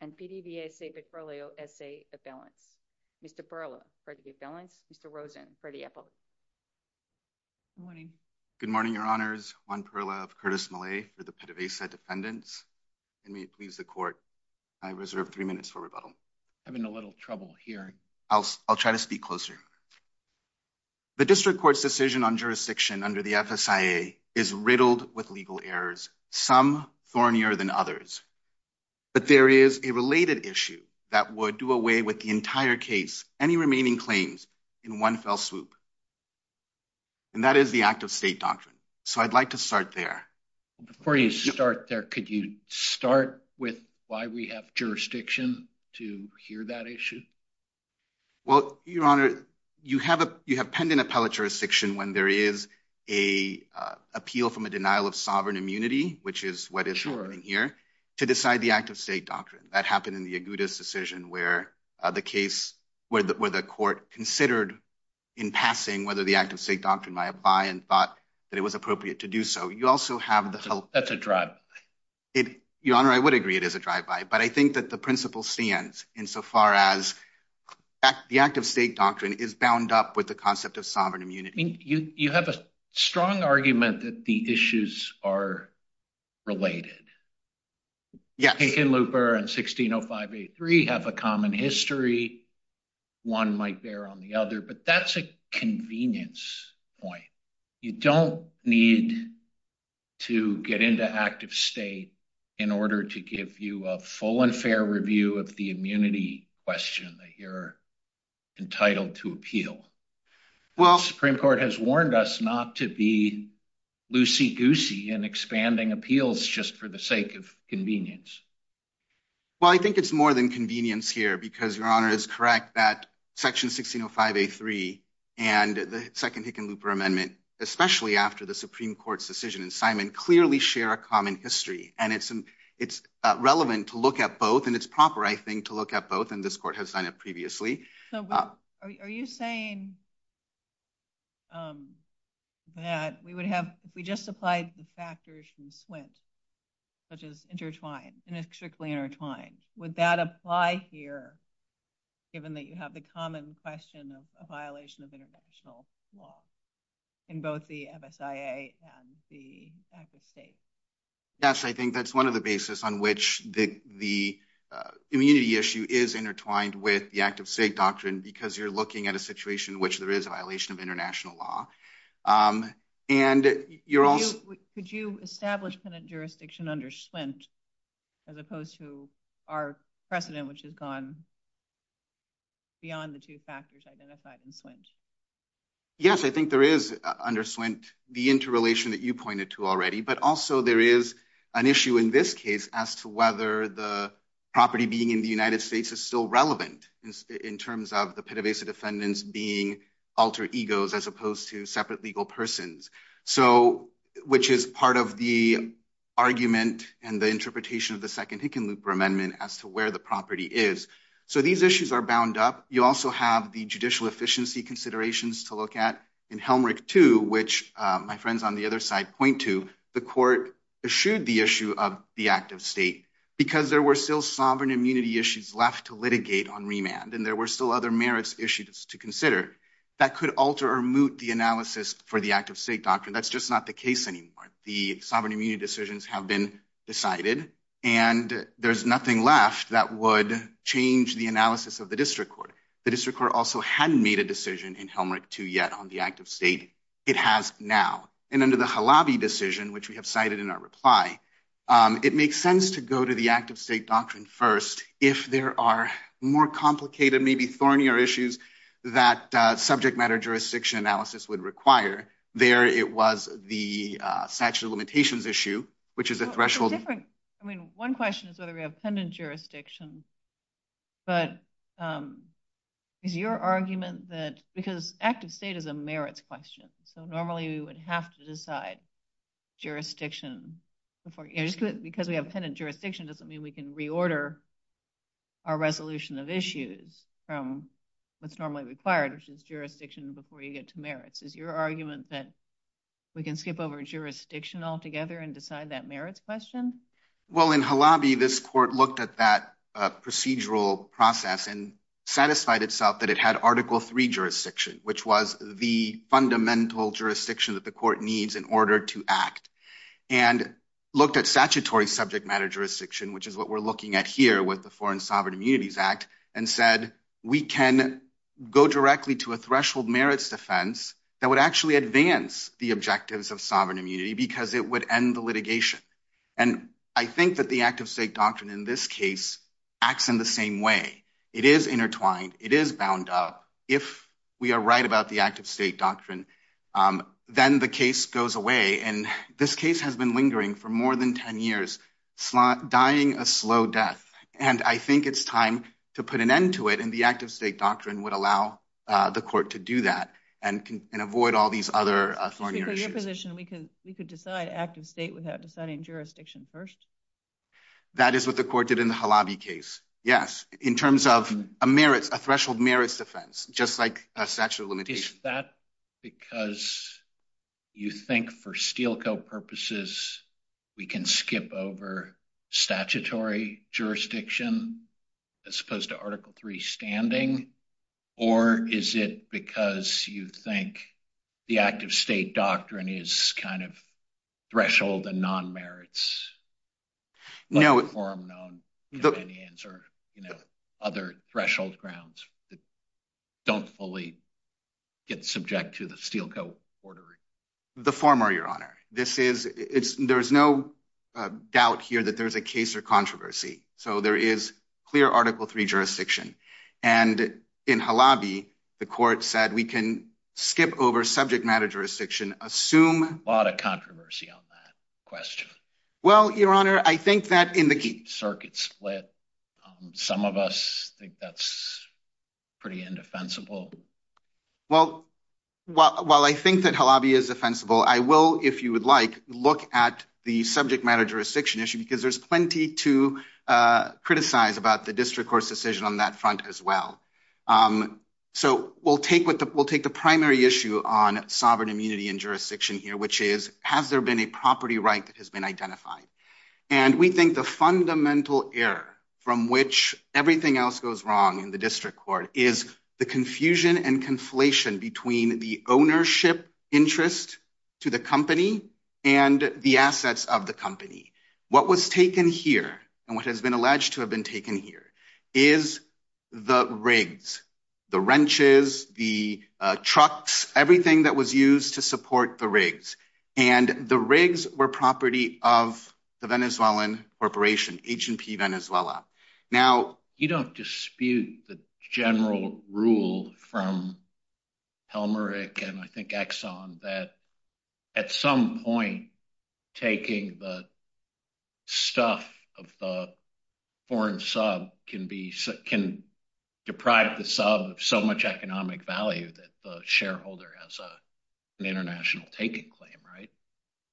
and PDVSA Petroleo, S.A. of Belen. Mr. Perla, for the Belen. Mr. Rosen, for the Epo. Good morning. Good morning, Your Honors. Juan Perla of Curtis Millay, with the PDVSA defendants. I may please the court. I reserve three minutes for rebuttal. I'm having a little trouble here. I'll try to speak closer. I'm sorry. I'm sorry. The district court's decision on jurisdiction under the FSIA is riddled with legal errors, some thornier than others. But there is a related issue that would do away with the entire case, any remaining claims, in one fell swoop, and that is the act of state doctrine. So I'd like to start there. Before you start there, could you start with why we have jurisdiction to hear that issue? Well, Your Honor, you have pending appellate jurisdiction when there is an appeal from a denial of sovereign immunity, which is what is happening here, to decide the act of state doctrine. That happened in the Agudas decision, where the court considered in passing whether the act of state doctrine might apply and thought that it was appropriate to do so. You also have the... That's a drive-by. Your Honor, I would agree it is a drive-by. But I think that the principle stands, insofar as the act of state doctrine is bound up with the concept of sovereign immunity. You have a strong argument that the issues are related. Kagan-Looper and 1605A3 have a common history. One might bear on the other, but that's a convenience point. You don't need to get into act of state in order to give you a full and fair review of the immunity question that you're entitled to appeal. Well... The Supreme Court has warned us not to be loosey-goosey in expanding appeals just for the sake of convenience. Well, I think it's more than convenience here, because Your Honor is correct that Section 1605A3 and the second Hickenlooper Amendment, especially after the Supreme Court's decision and assignment, clearly share a common history. And it's relevant to look at both, and it's proper, I think, to look at both, and this court has done it previously. Are you saying that we would have... We just applied the factors from SWIMP, which is intertwined, and it's strictly intertwined. Would that apply here, given that you have the common question of a violation of international law in both the FSIA and the act of state? Yes, I think that's one of the basis on which the immunity issue is intertwined with the act of state doctrine, because you're looking at a situation in which there is a violation of international law. And you're also... Could you establish penitent jurisdiction under SWIMP, as opposed to our precedent, which has gone beyond the two factors identified in SWIMP? Yes, I think there is, under SWIMP, the interrelation that you pointed to already. But also there is an issue in this case as to whether the property being in the United States is still relevant, in terms of the Pena Vesa defendants being alter egos, as opposed to separate legal persons. So, which is part of the argument and the interpretation of the Second Hickenlooper Amendment as to where the property is. So these issues are bound up. You also have the judicial efficiency considerations to look at. In Helmrich II, which my friends on the other side point to, the court eschewed the issue of the act of state, because there were still sovereign immunity issues left to litigate on remand, and there were still other merits issues to consider that could alter or moot the analysis for the act of state doctrine. That's just not the case anymore. The sovereign immunity decisions have been decided, and there's nothing left that would change the analysis of the district court. The district court also hadn't made a decision in Helmrich II yet on the act of state. It has now. And under the Halabi decision, which we have cited in our reply, it makes sense to go to the act of state doctrine first, if there are more complicated, maybe thornier issues that subject matter jurisdiction analysis would require. There, it was the statute of limitations issue, which is a threshold- It's a different... I mean, one question is whether we have pendant jurisdiction, but is your argument that... Because act of state is a merits question, so normally we would have to decide jurisdiction before... Just because we have pendant jurisdiction doesn't mean we can reorder our resolution of issues from what's normally required, which is jurisdiction before you get to merits. Is your argument that we can skip over jurisdiction altogether and decide that merits question? Well, in Halabi, this court looked at that procedural process and satisfied itself that it had Article III jurisdiction, which was the fundamental jurisdiction that the court needs in order to act, and looked at statutory subject matter jurisdiction, which is what we're looking at here with the Foreign Sovereign Immunities Act, and said, we can go directly to a threshold merits defense that would actually advance the objectives of sovereign immunity because it would end the litigation. And I think that the act of state doctrine in this case acts in the same way. It is intertwined. It is bound up. If we are right about the act of state doctrine, then the case goes away, and this case has been lingering for more than 10 years, dying a slow death. And I think it's time to put an end to it, and the act of state doctrine would allow the court to do that and avoid all these other thornier issues. Because in your position, we could decide act of state without deciding jurisdiction first? That is what the court did in the Halabi case, yes, in terms of a merit, a threshold merits defense, just like a statute of limitations. Is that because you think for Steele Co. purposes, we can skip over statutory jurisdiction as opposed to Article III standing? Or is it because you think the act of state doctrine is kind of threshold and non-merits? No. Or other threshold grounds that don't fully get subject to the Steele Co. order? The former, Your Honor. There's no doubt here that there's a case or controversy. So there is clear Article III jurisdiction. And in Halabi, the court said we can skip over subject matter jurisdiction, assume- A lot of controversy on that question. Well, Your Honor, I think that in the- Keep the circuit split. Some of us think that's pretty indefensible. Well, while I think that Halabi is defensible, I will, if you would like, look at the subject matter jurisdiction issue because there's plenty to criticize about the district court's decision on that front as well. So we'll take the primary issue on sovereign immunity and jurisdiction here, which is, has there been a property right that has been identified? And we think the fundamental error from which everything else goes wrong in the district court is the confusion and conflation between the ownership interest to the company and the assets of the company. What was taken here and what has been alleged to have been taken here is the rigs, the wrenches, the trucks, everything that was used to support the rigs. And the rigs were property of the Venezuelan corporation, H&P Venezuela. Now you don't dispute the general rule from Helmerich and I think Exxon that at some point taking the stuff of the foreign sub can deprive the sub of so much economic value that the shareholder has an international taking claim, right?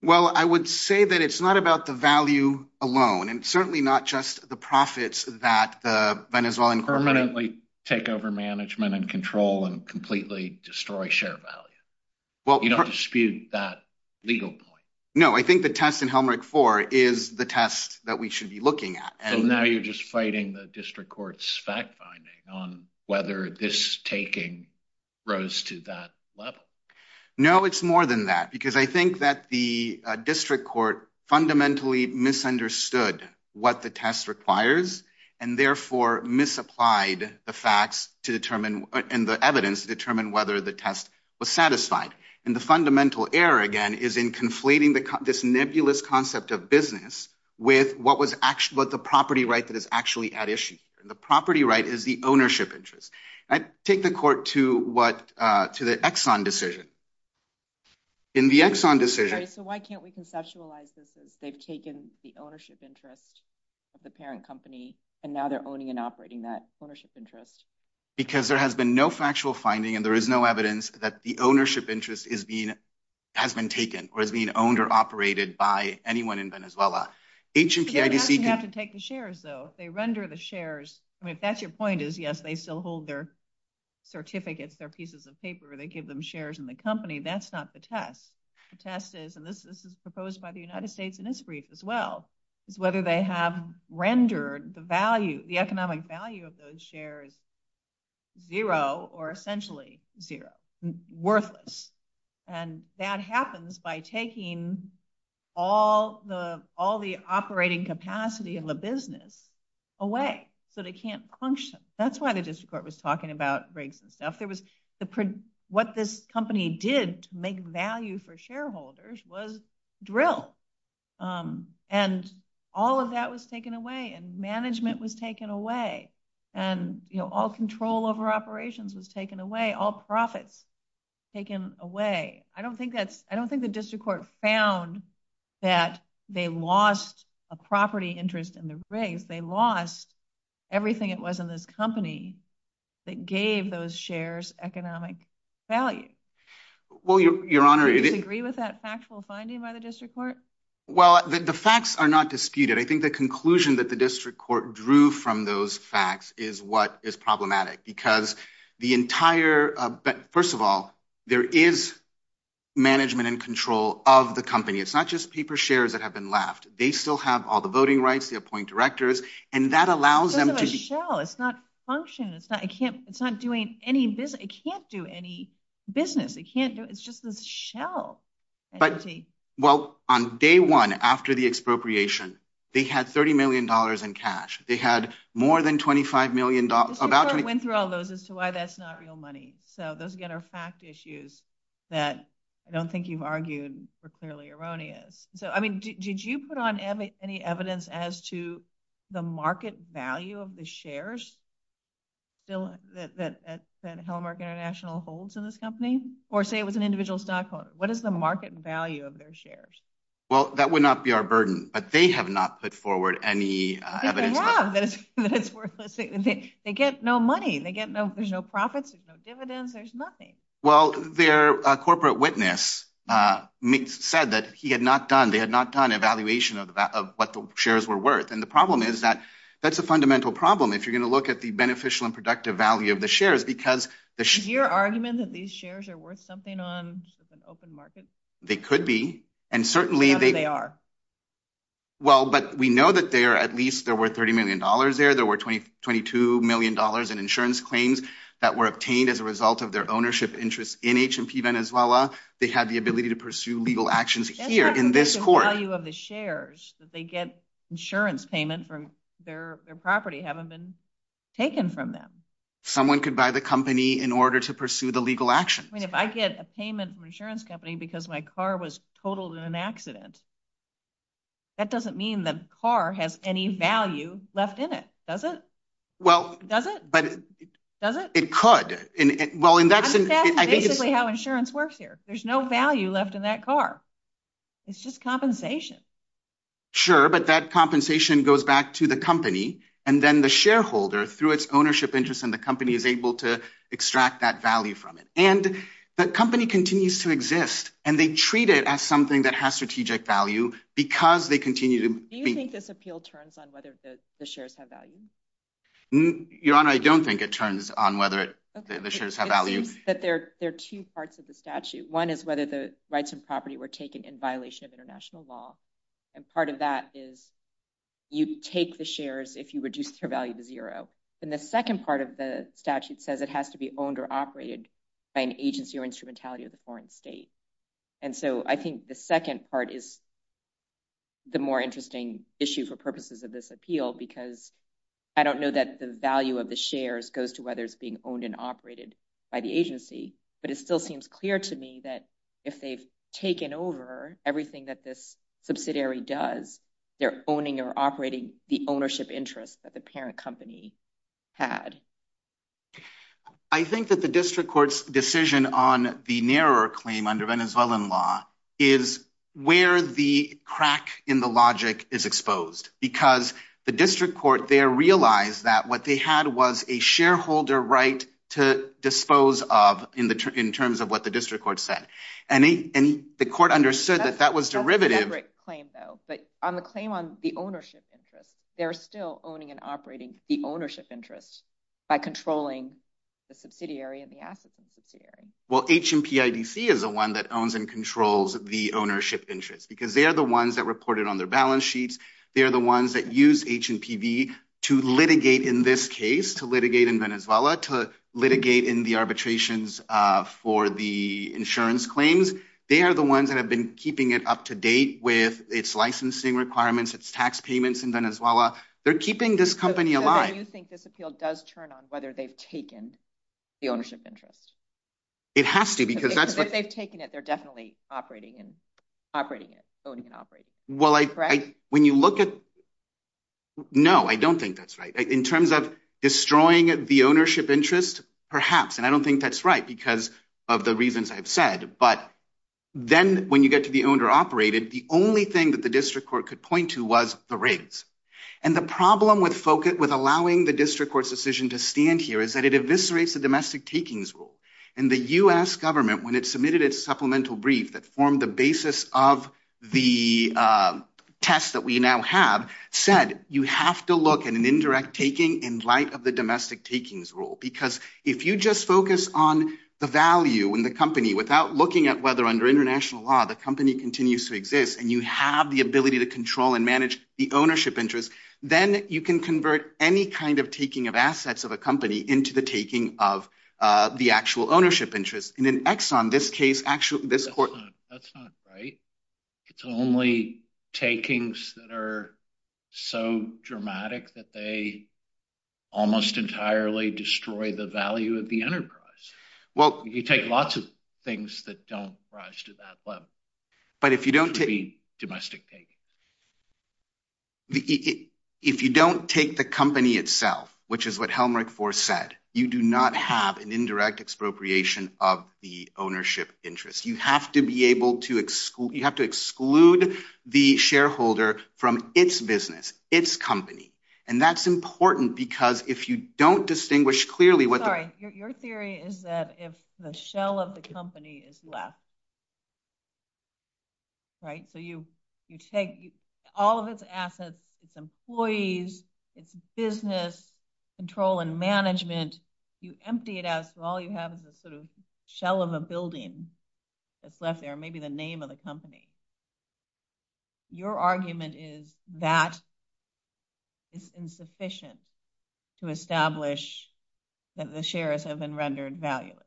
Well, I would say that it's not about the value alone and certainly not just the profits that the Venezuelan corporation... Permanently take over management and control and completely destroy share value. You don't dispute that legal point. No, I think the test in Helmerich 4 is the test that we should be looking at. And now you're just fighting the district court's fact finding on whether this taking rose to that level. No, it's more than that because I think that the district court fundamentally misunderstood what the test requires and therefore misapplied the facts to determine and the evidence to determine whether the test was satisfied. And the fundamental error again is in conflating this nebulous concept of business with what the property right that is actually at issue. The property right is the ownership interest. I take the court to the Exxon decision. In the Exxon decision... Okay, so why can't we conceptualize this as they've taken the ownership interest of the parent company and now they're owning and operating that ownership interest? Because there has been no factual finding and there is no evidence that the ownership interest has been taken or is being owned or operated by anyone in Venezuela. HIPP... You have to take the shares though. They render the shares. I mean, if that's your point is, yes, they still hold their certificates, their pieces of paper. They give them shares in the company. That's not the test. The test is, and this is proposed by the United States in this brief as well, is whether they have rendered the value, the economic value of those shares zero or essentially zero, worthless. And that happens by taking all the operating capacity of the business away so they can't function. That's why the district court was talking about racism. What this company did to make value for shareholders was drill. And all of that was taken away and management was taken away and all control over operations was taken away. All profits taken away. I don't think that's, I don't think the district court found that they lost a property interest in the race. They lost everything it was in this company that gave those shares economic value. HIPP... Do you agree with that factual finding by the district court? Well, the facts are not disputed. I think the conclusion that the district court drew from those facts is what is problematic because the entire, but first of all, there is management and control of the company. It's not just paper shares that have been left. They still have all the voting rights. They appoint directors and that allows them to... It's not function. It's not, I can't, it's not doing any business. I can't do any business. They can't do it. It's just a shell. But, well, on day one, after the expropriation, they had $30 million in cash. They had more than $25 million. The district court went through all those as to why that's not real money. So those, again, are fact issues that I don't think you've argued for clearly erroneous. So, I mean, did you put on any evidence as to the market value of the shares that Hellermark International holds in this company? Or say it was an individual stockholder. What is the market value of their shares? Well, that would not be our burden, but they have not put forward any evidence. I think they have. That it's worth, let's say, they get no money. They get no, there's no profits, there's no dividends, there's nothing. Well, their corporate witness said that he had not done, they had not done an evaluation of what the shares were worth. And the problem is that that's a fundamental problem if you're going to look at the beneficial and productive value of the shares, because- Is your argument that these shares are worth something on an open market? They could be. And certainly- What if they are? Well, but we know that there, at least, there were $30 million there. There were $22 million in insurance claims that were obtained as a result of their ownership interests in H&P Venezuela. They had the ability to pursue legal actions here in this court. And what's the value of the shares that they get insurance payment for their property haven't been taken from them? Someone could buy the company in order to pursue the legal action. I mean, if I get a payment from an insurance company because my car was totaled in an accident, that doesn't mean the car has any value left in it, does it? Well- Does it? Does it? It could. Well, and that's- That's basically how insurance works here. There's no value left in that car. It's just compensation. Sure, but that compensation goes back to the company, and then the shareholder, through its ownership interest in the company, is able to extract that value from it. And the company continues to exist, and they treat it as something that has strategic value because they continue to- Do you think this appeal turns on whether the shares have value? Your Honor, I don't think it turns on whether the shares have value. Okay, but there are two parts of the statute. One is whether the rights and property were taken in violation of international law. And part of that is you take the shares if you reduce their value to zero. And the second part of the statute says it has to be owned or operated by an agency or instrumentality of the foreign state. And so I think the second part is the more interesting issue for purposes of this appeal because I don't know that the value of the shares goes to whether it's being owned and operated by the agency, but it still seems clear to me that if they've taken over everything that this subsidiary does, they're owning or operating the ownership interest that the parent company had. I think that the district court's decision on the narrower claim under Venezuelan law is where the crack in the logic is exposed because the district court there realized that what they had was a shareholder right to dispose of in terms of what the district court said. And the court understood that that was derivative. That's a separate claim though. But on the claim on the ownership interest, they're still owning and operating the ownership interest by controlling the subsidiary and the asset subsidiary. Well, HMPIDC is the one that owns and controls the ownership interest because they're the ones that reported on their balance sheets. They're the ones that use HMPB to litigate in this case, to litigate in Venezuela, to litigate in the arbitrations for the insurance claims. They are the ones that have been keeping it up to date with its licensing requirements, its tax payments in Venezuela. They're keeping this company alive. So you think this appeal does turn on whether they've taken the ownership interest? It has to because that's... If they've taken it, they're definitely operating it, owning and operating it. Correct. Well, when you look at... No, I don't think that's right. In terms of destroying the ownership interest, perhaps, and I don't think that's right because of the reasons I've said, but then when you get to the owner operated, the only thing that the district court could point to was the rates. And the problem with allowing the district court's decision to stand here is that it eviscerates the domestic takings rule. And the US government, when it submitted its supplemental brief that formed the basis of the test that we now have, said, you have to look at an indirect taking in light of the domestic takings rule. Because if you just focus on the value in the company without looking at whether under international law, the company continues to exist and you have the ability to control and manage the ownership interest, then you can convert any kind of taking of assets of a company into the taking of the actual ownership interest. And in Exxon, this case, actually, this court... That's not right. It's only takings that are so dramatic that they almost entirely destroy the value of the enterprise. Well... You take lots of things that don't rise to that level. But if you don't take... Domestic takings. If you don't take the company itself, which is what Helmreich-Fors said, you do not have an indirect expropriation of the ownership interest. You have to exclude the shareholder from its business, its company. And that's important because if you don't distinguish clearly what... Sorry. Your theory is that if the shell of the company is left, right? So you take all of its assets, its employees, its business, control and management, you empty it out. So all you have is a sort of shell of a building that's left there, maybe the name of the company. Your argument is that is insufficient to establish that the shares have been rendered valueless.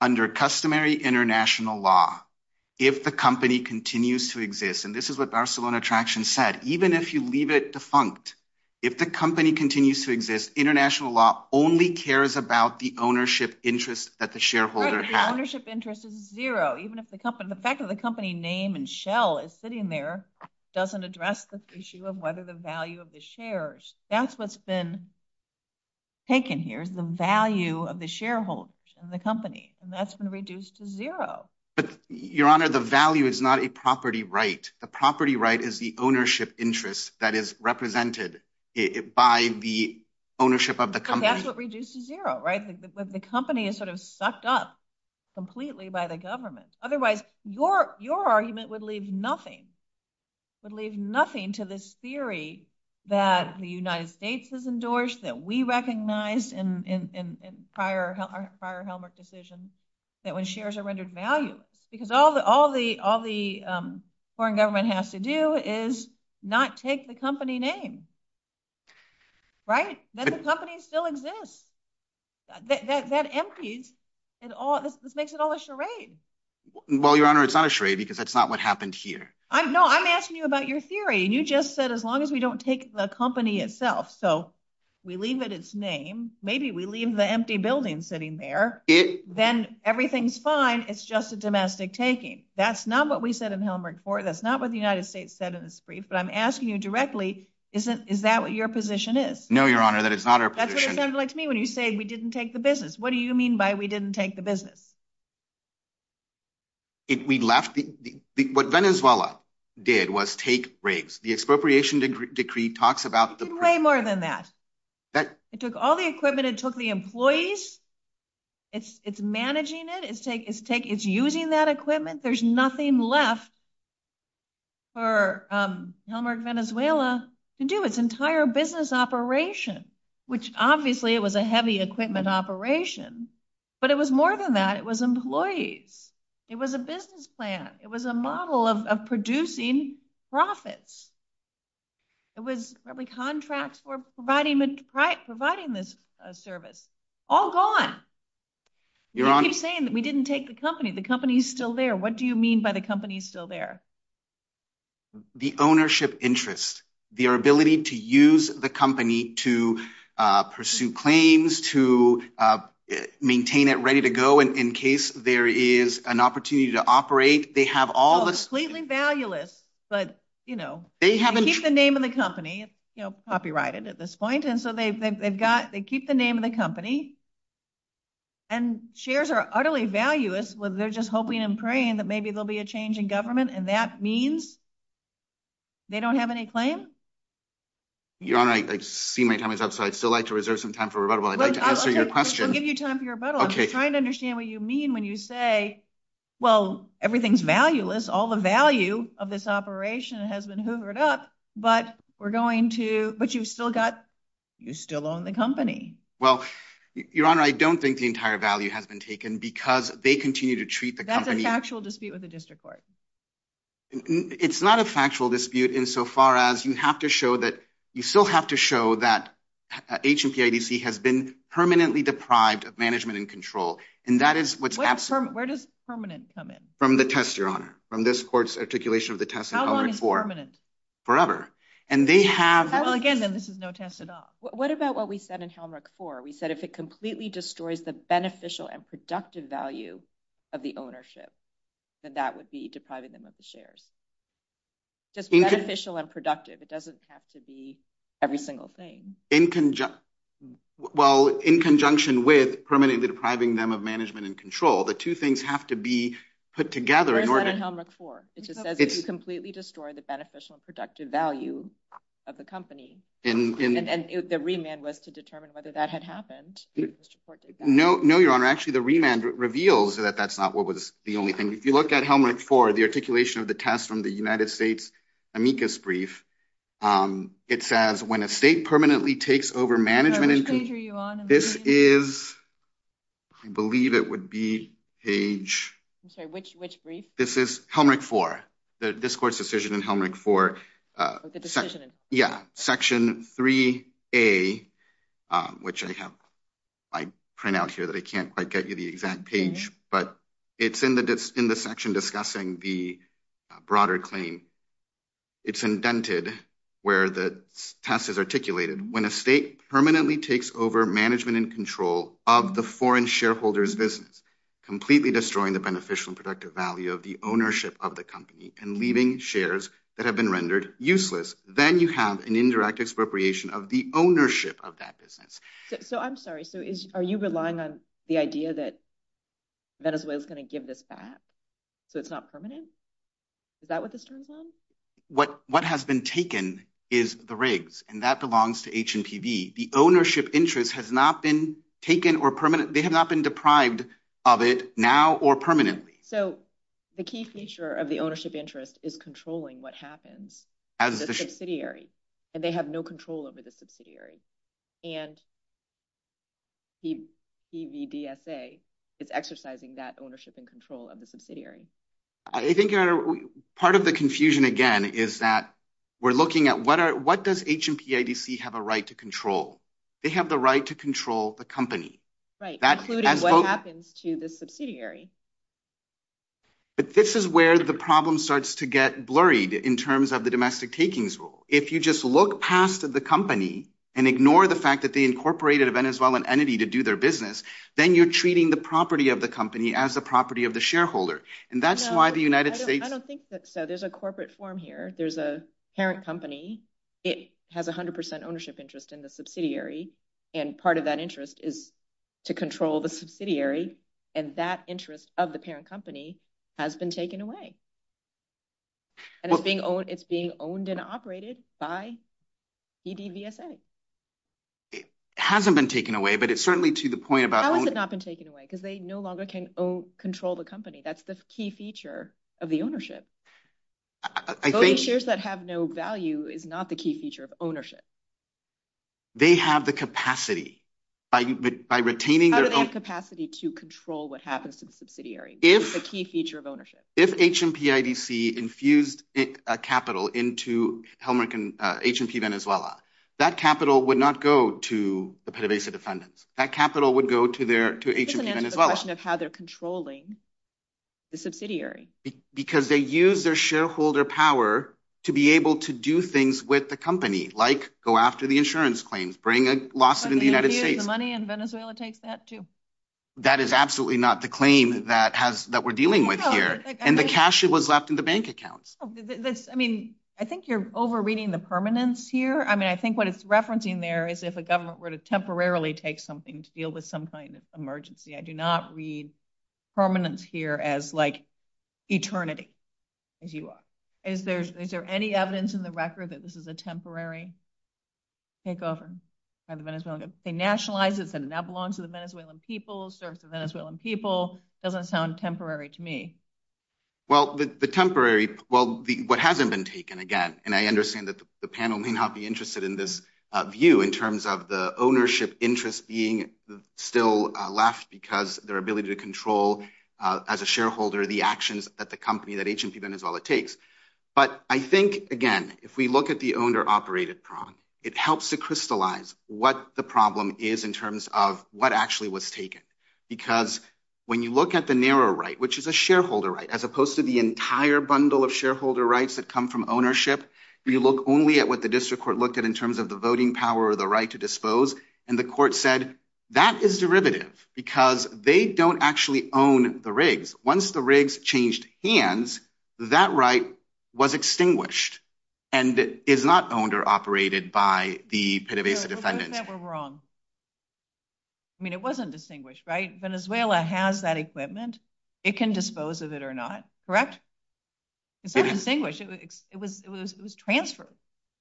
Under customary international law, if the company continues to exist, and this is what Barcelona Traction said, even if you leave it defunct, if the company continues to exist, international law only cares about the ownership interest that the shareholder has. The ownership interest is zero. Even if the company... The fact that the company name and shell is sitting there doesn't address the issue of whether the value of the shares... That's what's been taken here, is the value of the shareholders and the company, and that's been reduced to zero. But Your Honor, the value is not a property right. The property right is the ownership interest that is represented by the ownership of the company. So that's what reduces zero, right? The company is sort of sucked up completely by the government. Otherwise, your argument would leave nothing, would leave nothing to this theory that the United States has endorsed, that we recognized in prior Helmholtz decisions, that when shares are rendered valuable, because all the foreign government has to do is not take the company name, right? That the company still exists. That empties, it makes it all a charade. Well, Your Honor, it's not a charade, because that's not what happened here. No, I'm asking you about your theory. You just said, as long as we don't take the company itself, so we leave it its name, maybe we leave the empty building sitting there, then everything's fine. It's just a domestic taking. That's not what we said in Helmholtz 4, that's not what the United States said in its brief, but I'm asking you directly, is that what your position is? No, Your Honor, that is not our position. That's what it sounds like to me when you say we didn't take the business. What do you mean by we didn't take the business? What Venezuela did was take rigs. The expropriation decree talks about the- It's way more than that. It took all the equipment, it took the employees, it's managing it, it's using that equipment. There's nothing left for Helmholtz Venezuela to do, its entire business operation, which obviously it was a heavy equipment operation, but it was more than that, it was employees, it was a business plan, it was a model of producing profits. It was probably contracts for providing this service, all gone. You're saying that we didn't take the company, the company's still there, what do you mean by the company's still there? The ownership interest, their ability to use the company to pursue claims, to maintain it ready to go in case there is an opportunity to operate. It's completely valueless, but they keep the name of the company, it's copyrighted at this point, and so they keep the name of the company, and shares are utterly valueless, they're just hoping and praying that maybe there'll be a change in government, and that means they don't have any claims? Your Honor, I see my time is up, so I'd still like to reserve some time for rebuttal, I'd like to answer your question. I'll give you time for your rebuttal, I'm just trying to understand what you mean when you say, well, everything's valueless, all the value of this operation has been hoovered up, but we're going to, but you've still got, you still own the company. Well, Your Honor, I don't think the entire value has been taken because they continue to treat the company- That's a factual dispute with the district court. It's not a factual dispute insofar as you have to show that, you still have to show that HOPADC has been permanently deprived of management and control, and that is what's absolutely- Where does permanent come in? From the test, Your Honor, from this court's articulation of the test in Helmrich 4. How long is permanent? Forever. And they have- Well, again, then, this is no test at all. What about what we said in Helmrich 4, we said, if it completely destroys the beneficial and productive value of the ownership, then that would be depriving them of the shares? Just beneficial and productive, it doesn't have to be every single thing. Well, in conjunction with permanently depriving them of management and control, the two things have to be put together in order- Where is that in Helmrich 4? It just says, if you completely destroy the beneficial and productive value of the company, and the remand was to determine whether that had happened, the district court did that. No, Your Honor, actually, the remand reveals that that's not what was the only thing. If you look at Helmrich 4, the articulation of the test from the United States amicus brief, it says, when a state permanently takes over management and control, this is, I believe it would be page- I'm sorry, which brief? This is Helmrich 4, the district court's decision in Helmrich 4, section 3A, which I have my printout here that I can't quite get you the exact page, but it's in the section discussing the broader claim. It's indented where the test is articulated, when a state permanently takes over management and control of the foreign shareholder's business, completely destroying the beneficial and productive value of the ownership of the company, and leaving shares that have been rendered useless, then you have an indirect expropriation of the ownership of that business. So, I'm sorry, so are you relying on the idea that Venezuela's going to give this back, so it's not permanent? Is that what this turns on? What has been taken is the rigs, and that belongs to HNTD. The ownership interest has not been taken or permanent, they have not been deprived of it now or permanently. So, the key feature of the ownership interest is controlling what happens. The subsidiary, and they have no control over the subsidiary, and PVDSA is exercising that ownership and control of the subsidiary. I think part of the confusion, again, is that we're looking at what does HNPIDC have a right to control? They have the right to control the company. Right, including what happens to the subsidiary. But this is where the problem starts to get blurried in terms of the domestic takings rule. If you just look past the company and ignore the fact that they incorporated a Venezuelan entity to do their business, then you're treating the property of the company as the property of the shareholder. And that's why the United States... No, I don't think so. There's a corporate form here. There's a parent company, it has 100% ownership interest in the subsidiary, and part of that interest is to control the subsidiary, and that interest of the parent company has been taken away. And it's being owned and operated by PVDSA. It hasn't been taken away, but it's certainly to the point about... How has it not been taken away? Because they no longer can control the company. That's the key feature of the ownership. Those shares that have no value is not the key feature of ownership. They have the capacity by retaining their own... How do they have the capacity to control what happens in the subsidiary? It's a key feature of ownership. If HMPIDC infused a capital into HMP Venezuela, that capital would not go to the PVDSA defendant. That capital would go to HMP Venezuela. It's a question of how they're controlling the subsidiary. Because they use their shareholder power to be able to do things with the company, like go after the insurance claims, bring a lawsuit in the United States. They use the money, and Venezuela takes that too. That is absolutely not the claim that we're dealing with here. And the cash was left in the bank account. I think you're over-reading the permanence here. I think what it's referencing there is if a government were to temporarily take something to deal with some kind of emergency. I do not read permanence here as like eternity, as you are. Is there any evidence in the record that this is a temporary takeover? For Venezuela to nationalize it, that it now belongs to the Venezuelan people, serves the Venezuelan people? It doesn't sound temporary to me. Well, the temporary... Well, what hasn't been taken, again, and I understand that the panel may not be interested in this view in terms of the ownership interest being still left because their ability to control as a shareholder the actions that the company, that agency, Venezuela takes. But I think, again, if we look at the owner-operated problem, it helps to crystallize what the problem is in terms of what actually was taken. Because when you look at the narrow right, which is a shareholder right, as opposed to the entire bundle of shareholder rights that come from ownership, you look only at what the district court looked at in terms of the voting power or the right to dispose. And the court said, that is derivative because they don't actually own the rigs. Once the rigs changed hands, that right was extinguished and is not owned or operated by the PDVSA defendant. But what if they were wrong? I mean, it wasn't distinguished, right? Venezuela has that equipment. It can dispose of it or not, correct? It's not distinguished. It was transferred.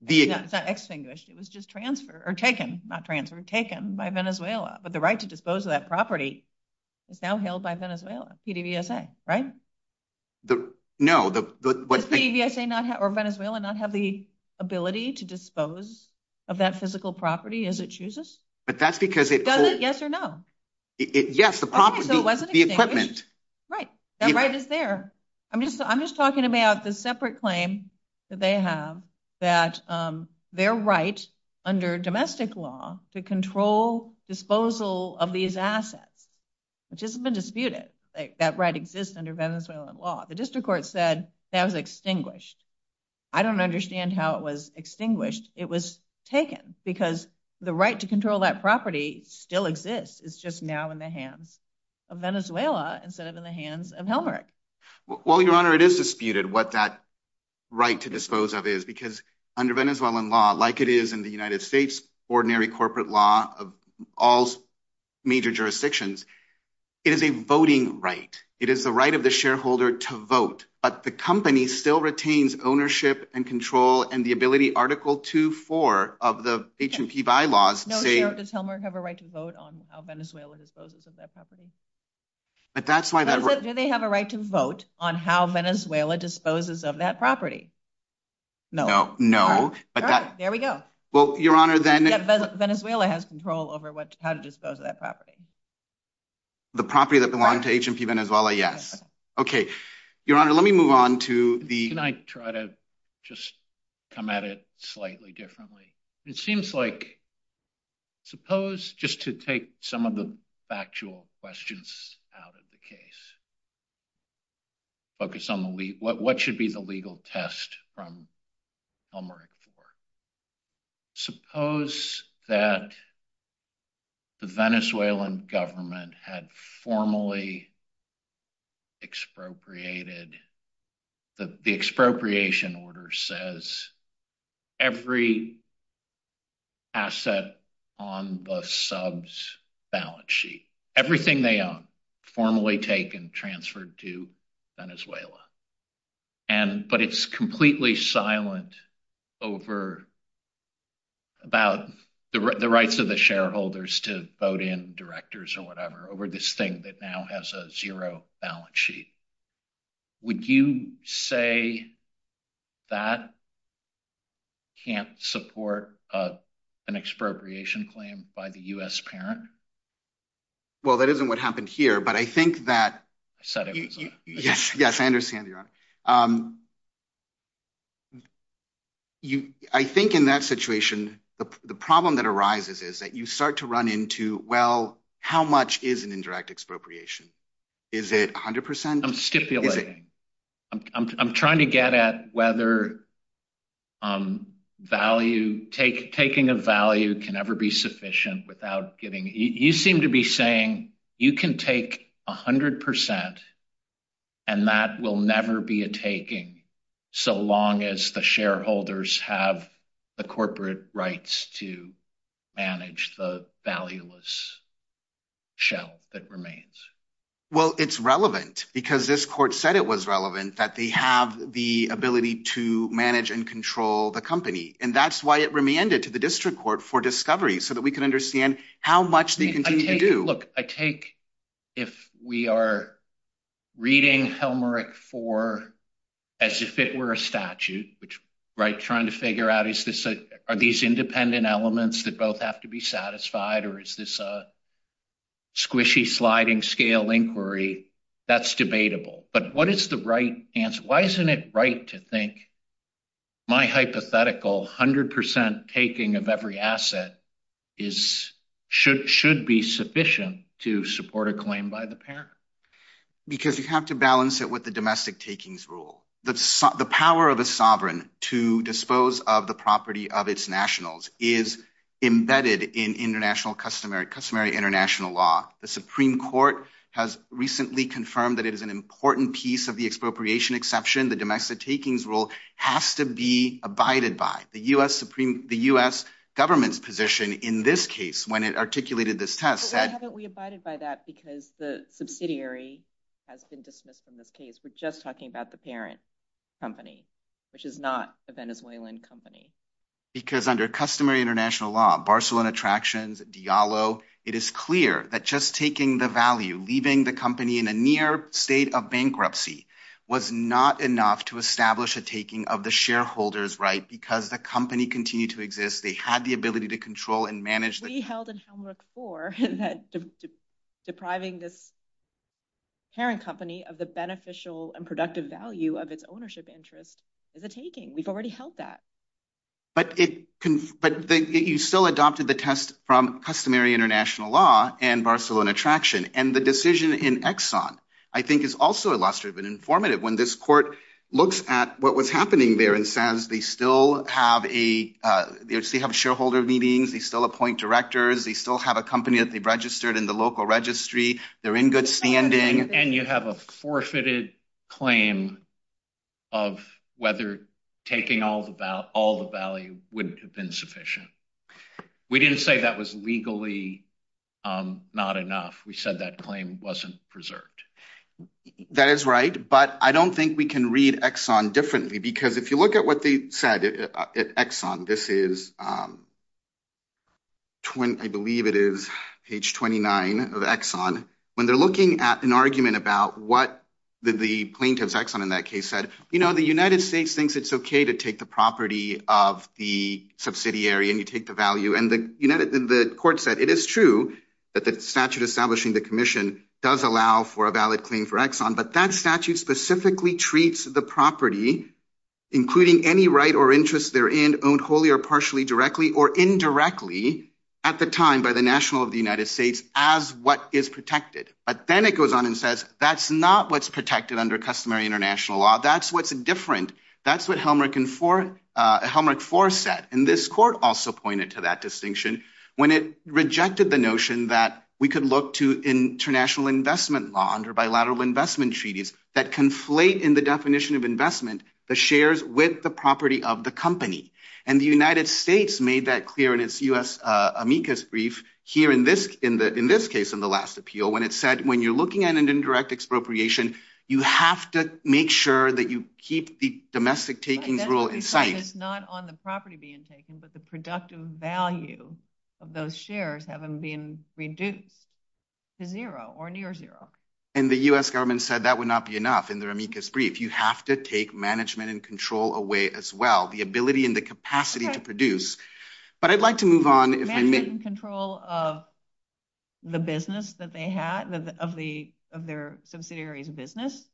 It's not extinguished. It was just transferred or taken, not transferred, taken by Venezuela. But the right to dispose of that property is now held by Venezuela, PDVSA, right? No. Does PDVSA or Venezuela not have the ability to dispose of that physical property as it chooses? But that's because it- Does it? Yes or no? Yes, the property, the equipment. Right. That right is there. I'm just talking about the separate claim that they have that their right under domestic law to control disposal of these assets, which hasn't been disputed, that right exists under Venezuelan law. The district court said that was extinguished. I don't understand how it was extinguished. It was taken because the right to control that property still exists. It's just now in the hands of Venezuela instead of in the hands of Helmrich. Well, Your Honor, it is disputed what that right to dispose of is because under Venezuelan law, like it is in the United States, ordinary corporate law of all major jurisdictions, it is a voting right. It is the right of the shareholder to vote, but the company still retains ownership and control and the ability, Article 2.4 of the HMP bylaws- No, Sheriff, does Helmrich have a right to vote on how Venezuela disposes of that property? But that's why- Does it, do they have a right to vote on how Venezuela disposes of that property? No. No. No. There we go. Well, Your Honor, then- Venezuela has control over what, how to dispose of that property. The property that belonged to HMP Venezuela, yes. Okay. Your Honor, let me move on to the- Can I try to just come at it slightly differently? It seems like, suppose, just to take some of the factual questions out of the case, focus on what should be the legal test from Helmrich for. Suppose that the Venezuelan government had formally expropriated, the expropriation order that says every asset on the subs balance sheet, everything they own, formally taken, transferred to Venezuela. And, but it's completely silent over, about the rights of the shareholders to vote in directors or whatever, over this thing that now has a zero balance sheet. Would you say that can't support an expropriation claim by the U.S. parent? Well, that isn't what happened here, but I think that- Yes, yes, I understand, Your Honor. I think in that situation, the problem that arises is that you start to run into, well, how much is an indirect expropriation? Is it 100%? I'm stipulating. I'm trying to get at whether value, taking a value can ever be sufficient without getting, you seem to be saying you can take 100% and that will never be a taking so long as the shareholders have the corporate rights to manage the valueless shell that remains. Well, it's relevant because this court said it was relevant that they have the ability to manage and control the company. And that's why it remanded to the district court for discovery so that we can understand how much they continue to do. Look, I take if we are reading Helmerich IV as if it were a statute, trying to figure out are these independent elements that both have to be satisfied or is this a squishy sliding scale inquiry, that's debatable. But what is the right answer? Why isn't it right to think my hypothetical 100% taking of every asset should be sufficient to support a claim by the parent? Because you have to balance it with the domestic takings rule. The power of a sovereign to dispose of the property of its nationals is embedded in international customary, customary international law. The Supreme Court has recently confirmed that it is an important piece of the expropriation exception. The domestic takings rule has to be abided by. The U.S. government's position in this case when it articulated this test said- But why haven't we abided by that? Because the subsidiary has been dismissed from this case. We're just talking about the parent company, which is not a Venezuelan company. Because under customary international law, Barcelona Attractions, Diallo, it is clear that just taking the value, leaving the company in a near state of bankruptcy, was not enough to establish a taking of the shareholder's right because the company continued to exist. They had the ability to control and manage the- We held it in the core that depriving this parent company of the beneficial and productive value of its ownership interest is a taking. We've already held that. But you still adopted the test from customary international law and Barcelona Attraction. And the decision in Exxon, I think, is also illustrative and informative. When this court looks at what was happening there in SANS, they still have a- They still have shareholder meetings. They still appoint directors. They still have a company that they've registered in the local registry. They're in good standing. And you have a forfeited claim of whether taking all the value wouldn't have been sufficient. We didn't say that was legally not enough. We said that claim wasn't preserved. That is right. But I don't think we can read Exxon differently because if you look at what they said at Exxon, this is- I believe it is page 29 of Exxon. When they're looking at an argument about what the plaintiff, Exxon, in that case said, you know, the United States thinks it's okay to take the property of the subsidiary and you take the value. And the court said it is true that the statute establishing the commission does allow for a valid claim for Exxon, but that statute specifically treats the property, including any right or interest therein, owned wholly or partially directly or indirectly at the time by the national of the United States as what is protected. But then it goes on and says, that's not what's protected under customary international law. That's what's different. That's what Helmrich IV said. And this court also pointed to that distinction when it rejected the notion that we could look to international investment law under bilateral investment treaties that conflate in the definition of investment, the shares with the property of the company. And the United States made that clear in its U.S. amicus brief here in this case, in the last appeal, when it said, when you're looking at an indirect expropriation, you have to make sure that you keep the domestic taking rule in sight. It's not on the property being taken, but the productive value of those shares have been reduced to zero or near zero. And the U.S. government said that would not be enough in their amicus brief. You have to take management and control away as well. The ability and the capacity to produce. But I'd like to move on. Management and control of the business that they had, of their subsidiary's business?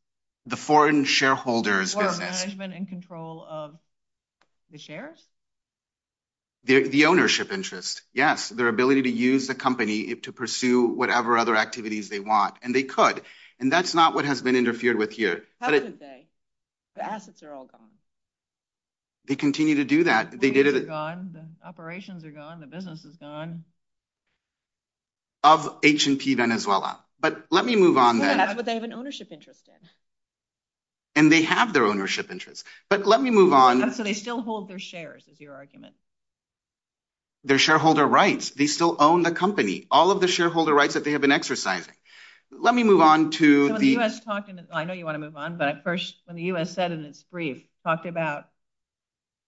The foreign shareholders. Or management and control of the shares? The ownership interest. Yes. Their ability to use the company to pursue whatever other activities they want. And they could. And that's not what has been interfered with here. How could they? The assets are all gone. They continue to do that. The operations are gone. The business is gone. Of H&P Venezuela. But let me move on. But they have an ownership interest. And they have their ownership interest. But let me move on. So they still hold their shares, is your argument. Their shareholder rights. They still own the company. All of the shareholder rights that they have been exercising. Let me move on to the. I know you want to move on. But when the U.S. said in its brief, talked about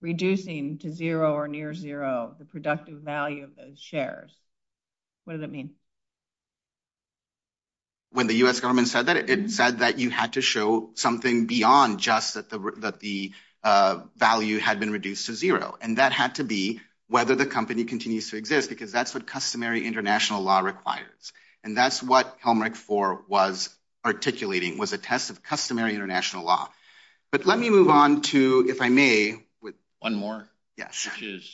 reducing to zero or near zero, the productive value of those shares. What does that mean? When the U.S. government said that, it said that you had to show something beyond just that the value had been reduced to zero. And that had to be whether the company continues to exist. Because that's what customary international law requires. And that's what Pelmeric IV was articulating, was a test of customary international law. But let me move on to, if I may. One more? Yes.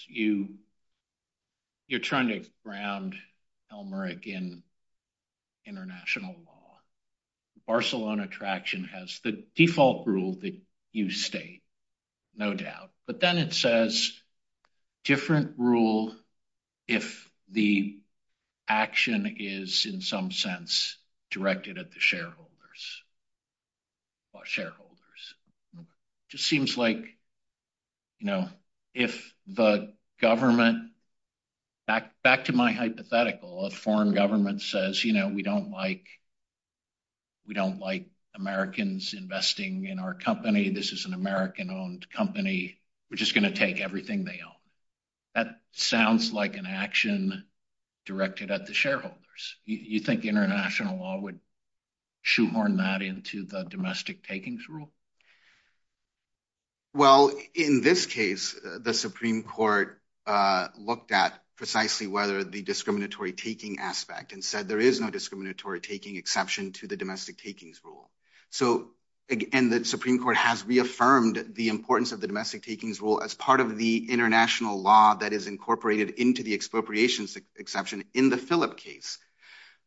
You're trying to ground Pelmeric in international law. Barcelona Traction has the default rule that you state, no doubt. But then it says, different rule if the action is, in some sense, directed at the shareholders. Or shareholders. Just seems like, you know, if the government, back to my hypothetical, a foreign government says, you know, we don't like. We don't like Americans investing in our company. This is an American-owned company. We're just going to take everything they own. That sounds like an action directed at the shareholders. You think international law would shoehorn that into the domestic takings rule? Well, in this case, the Supreme Court looked at precisely whether the discriminatory taking aspect. And said there is no discriminatory taking exception to the domestic takings rule. And the Supreme Court has reaffirmed the importance of the domestic takings rule as part of the international law that is incorporated into the expropriation exception in the Philip case.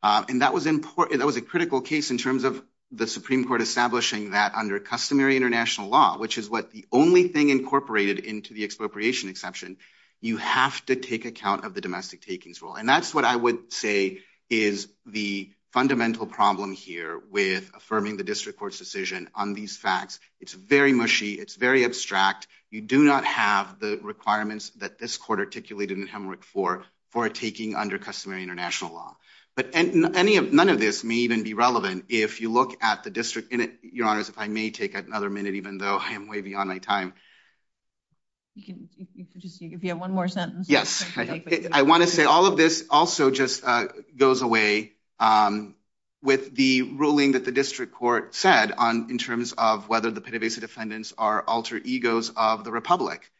And that was a critical case in terms of the Supreme Court establishing that under customary international law, which is the only thing incorporated into the expropriation exception. You have to take account of the domestic takings rule. And that's what I would say is the fundamental problem here with affirming the district court's decision on these facts. It's very mushy. It's very abstract. You do not have the requirements that this court articulated in the hemorrhagic floor for a taking under customary international law. But none of this may even be relevant if you look at the district. And you're honest, if I may take another minute, even though I am way beyond my time. If you have one more sentence. Yes. I want to say all of this also just goes away with the ruling that the district court said in terms of whether the PDVSA defendants are alter egos of the republic.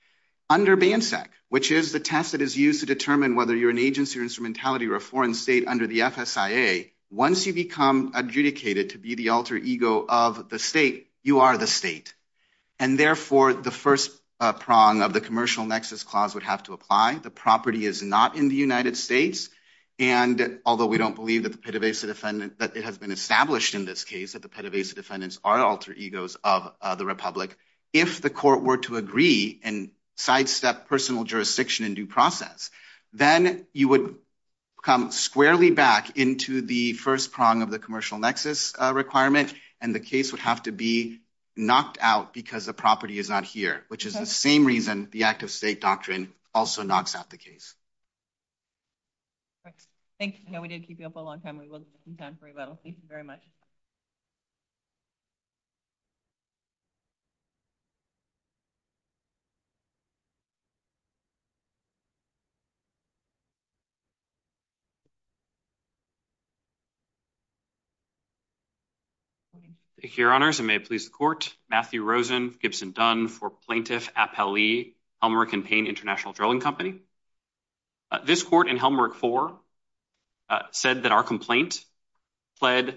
Under BANSEC, which is the test that is used to determine whether you're an agency or instrumentality or a foreign state under the FSIA, once you become adjudicated to be the alter ego of the state, you are the state. And therefore, the first prong of the commercial nexus clause would have to apply. The property is not in the United States. And although we don't believe the PDVSA defendants, but it has been established in this case that the PDVSA defendants are alter egos of the republic. If the court were to agree and sidestep personal jurisdiction and due process, then you would come squarely back into the first prong of the commercial nexus requirement. And the case would have to be knocked out because the property is not here, which is the same reason the act of state doctrine also knocks out the case. Thank you. We did keep you up a long time. We will be done very well. Thank you very much. Thank you, Your Honors. And may it please the court. Matthew Rosen, Gibson Dunn for Plaintiff Appellee, Helmholtz & Payne International Drilling Company. This court in Helmholtz 4 said that our complaint fled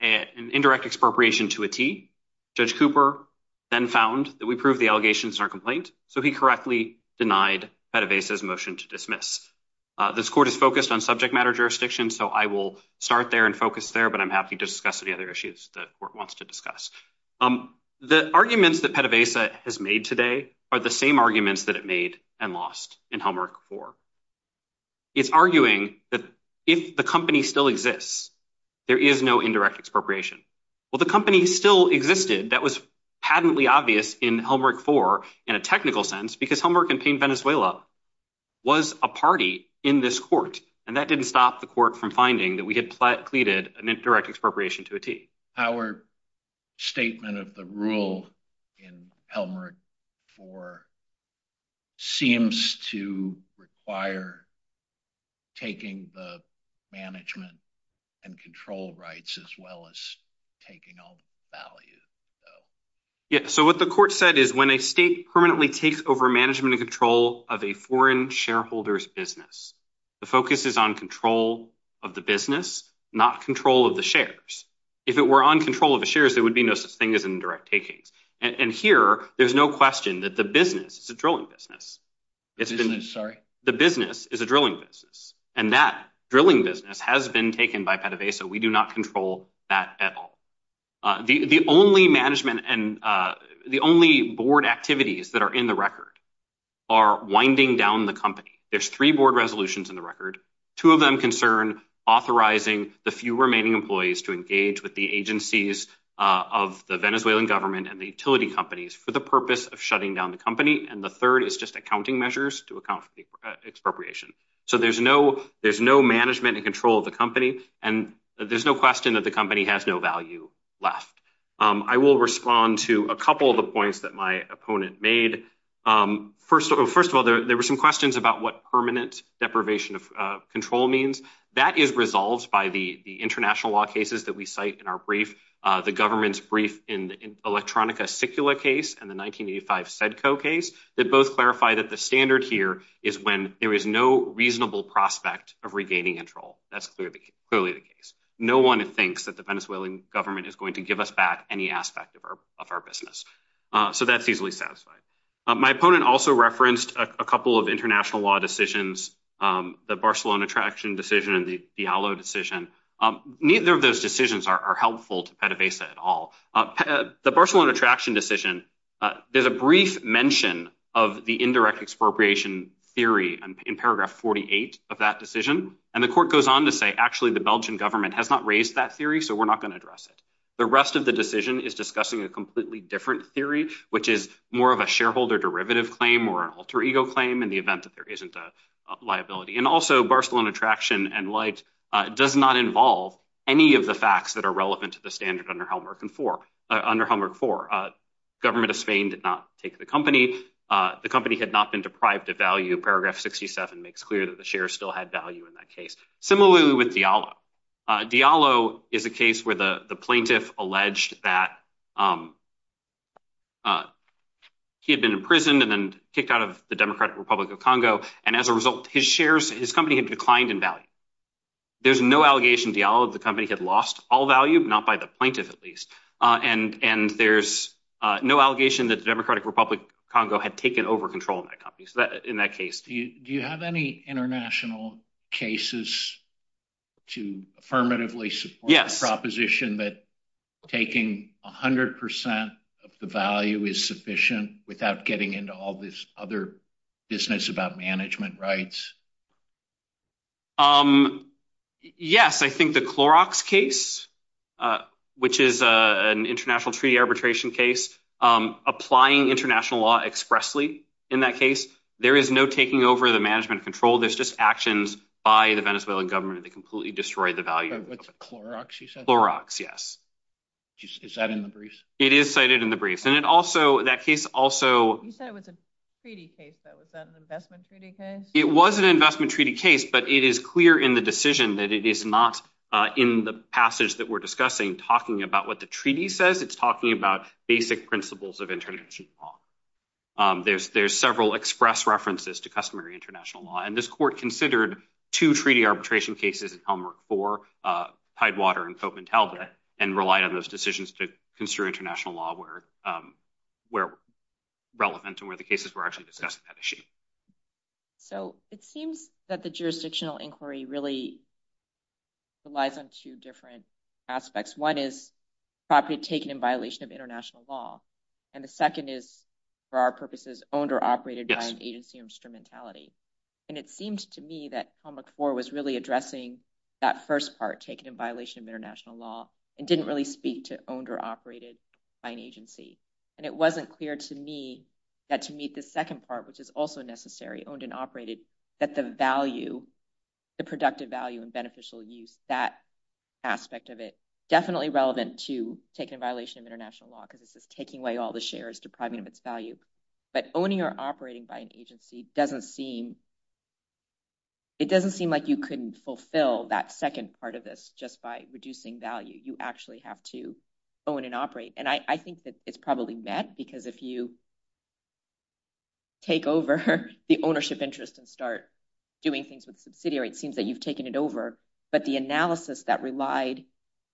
an indirect expropriation to a T. Judge Cooper then found that we proved the allegations in our complaint, so he correctly denied PDVSA's motion to dismiss. This court is focused on subject matter jurisdiction, so I will start there and focus there, but I'm happy to discuss any other issues that the court wants to discuss. The arguments that PDVSA has made today are the same arguments that it made and lost in Helmholtz 4. It's arguing that if the company still exists, there is no indirect expropriation. Well, the company still existed. That was patently obvious in Helmholtz 4 in a technical sense because Helmholtz & Payne Venezuela was a party in this court, and that didn't stop the court from finding that we had pleaded an indirect expropriation to a T. Our statement of the rule in Helmholtz 4 seems to require taking the management and control rights as well as taking all the value. Yes, so what the court said is when a state permanently takes over management and control of a foreign shareholder's business, the focus is on control of the business, not control of the shares. If it were on control of the shares, there would be no suspended indirect takings. And here, there's no question that the business is a drilling business, and that drilling business has been taken by PDVSA. We do not control that at all. The only management and the only board activities that are in the record are winding down the company. There's three board resolutions in the record. Two of them concern authorizing the few remaining employees to engage with the agencies of the Venezuelan government and the utility companies for the purpose of shutting down the company. And the third is just accounting measures to account for the expropriation. So there's no management and control of the company, and there's no question that the company has no value left. I will respond to a couple of the points that my opponent made. First of all, there were some questions about what permanent deprivation of control means. That is resolved by the international law cases that we cite in our brief, the government's brief in the Electronica Cicula case and the 1985 CEDCO case. They both clarify that the standard here is when there is no reasonable prospect of regaining control. That's clearly the case. No one thinks that the Venezuelan government is going to give us back any aspect of our business. So that's easily satisfied. My opponent also referenced a couple of international law decisions, the Barcelona Traction decision and the Diallo decision. Neither of those decisions are helpful to PDVSA at all. The Barcelona Traction decision, there's a brief mention of the indirect expropriation theory in paragraph 48 of that decision. And the court goes on to say, actually, the Belgian government has not raised that theory, so we're not going to address it. The rest of the decision is discussing a completely different theory, which is more of a shareholder derivative claim or an alter ego claim in the event that there isn't a liability. And also, Barcelona Traction and LIGHTS does not involve any of the facts that are relevant to the standard under Helmholtz 4. Government of Spain did not take the company. The company had not been deprived of value. Paragraph 67 makes clear that the shares still had value in that case. Similarly with Diallo. Diallo is a case where the plaintiff alleged that he had been imprisoned and then kicked out of the Democratic Republic of Congo. And as a result, his shares, his company had declined in value. There's no allegation, Diallo, that the company had lost all value, not by the plaintiff at least. And there's no allegation that the Democratic Republic of Congo had taken over control of that company in that case. Do you have any international cases to affirmatively support the proposition that taking 100 percent of the value is sufficient without getting into all this other business about management rights? Yes, I think the Clorox case, which is an international treaty arbitration case, applying international law expressly in that case. There is no taking over the management control. There's just actions by the Venezuelan government that completely destroyed the value. It's a Clorox, you said? Clorox, yes. Is that in the briefs? It is cited in the briefs. And it also, that case also. You said it was a treaty case, but was that an investment treaty case? It was an investment treaty case, but it is clear in the decision that it is not in the passage that we're discussing talking about what the treaty says. It's talking about basic principles of international law. There's several express references to customary international law. And this court considered two treaty arbitration cases in Calumar IV, Tidewater and Fopenthalda, and relied on those decisions to consider international law where relevant and where the cases were actually discussing that issue. So it seems that the jurisdictional inquiry really relies on two different aspects. One is property taken in violation of international law. And the second is, for our purposes, owned or operated by an agency or instrumentality. And it seems to me that Calumar IV was really addressing that first part, taken in violation of international law, and didn't really speak to owned or operated by an agency. And it wasn't clear to me that to meet the second part, which is also necessary, owned and operated, that the value, the productive value and beneficial use, that aspect of it, definitely relevant to taken in violation of international law, because it's just taking away all the shares, depriving of its value. But owning or operating by an agency doesn't seem – it doesn't seem like you can fulfill that second part of this just by reducing value. You actually have to own and operate. And I think that it's probably met, because if you take over the ownership interest and start doing things with subsidiary, it seems that you've taken it over. But the analysis that relied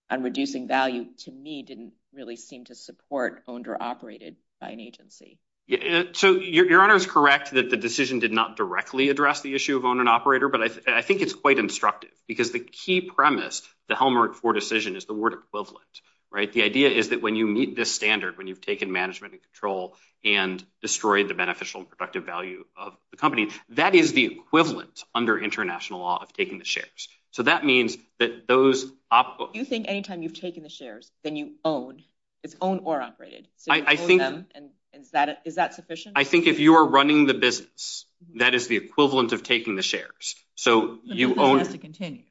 on reducing value, to me, didn't really seem to support owned or operated by an agency. Your Honor is correct that the decision did not directly address the issue of owned and operated, but I think it's quite instructive, because the key premise, the Calumar IV decision, is the word equivalent. The idea is that when you meet this standard, when you've taken management and control and destroyed the beneficial and productive value of the company, that is the equivalent under international law of taking the shares. So that means that those – So if you think any time you've taken the shares, then you've owned. It's owned or operated. I think – Is that sufficient? I think if you are running the business, that is the equivalent of taking the shares. So you own – The business has to continue.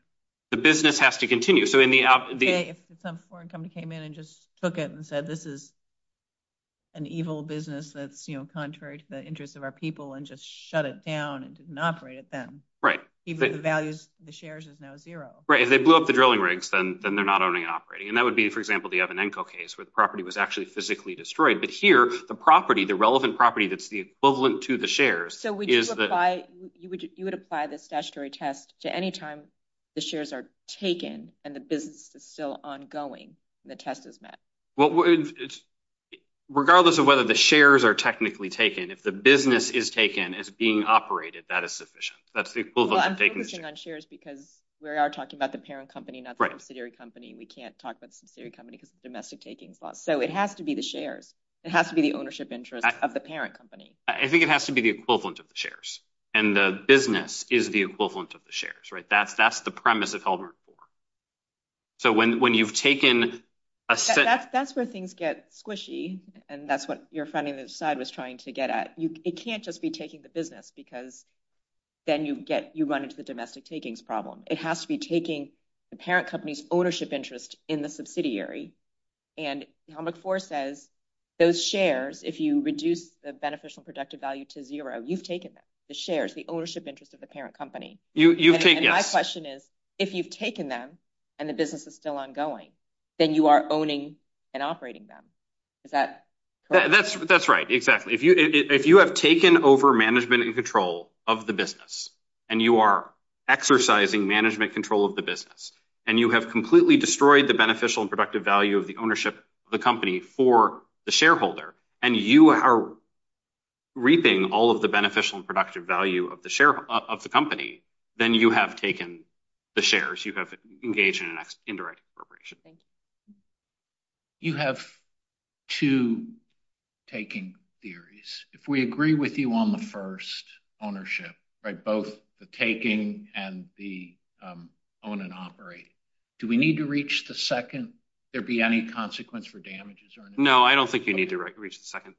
The business has to continue. So in the – Okay, if some foreign company came in and just took it and said, this is an evil business that's contrary to the interests of our people, and just shut it down and didn't operate it then. Right. The value of the shares is now zero. Right. If they blew up the drilling rigs, then they're not owning and operating. And that would be, for example, the Evanenko case, where the property was actually physically destroyed. But here, the property, the relevant property that's the equivalent to the shares is the – So you would apply the statutory test to any time the shares are taken and the business is still ongoing and the test is met? Regardless of whether the shares are technically taken, if the business is taken as being operated, that is sufficient. That's the equivalent of taking the shares. We're talking on shares because we are talking about the parent company, not the subsidiary company. We can't talk about the subsidiary company because it's a domestic taking clause. So it has to be the shares. It has to be the ownership interest of the parent company. I think it has to be the equivalent of the shares. And the business is the equivalent of the shares, right? That's the premise of Albert IV. So when you've taken – That's where things get squishy. And that's what your friend in the side was trying to get at. It can't just be taking the business because then you run into the domestic takings problem. It has to be taking the parent company's ownership interest in the subsidiary. And Albert IV says those shares, if you reduce the beneficial productive value to zero, you've taken them, the shares, the ownership interest of the parent company. And my question is, if you've taken them and the business is still ongoing, then you are owning and operating them. Is that correct? That's right. Exactly. If you have taken over management and control of the business, and you are exercising management control of the business, and you have completely destroyed the beneficial and productive value of the ownership of the company for the shareholder, and you are reaping all of the beneficial and productive value of the company, then you have taken the shares. You have engaged in an indirect appropriation. You have two taking theories. If we agree with you on the first, ownership, both the taking and the own and operate, do we need to reach the second? Would there be any consequence for damages? No, I don't think you need to reach the second.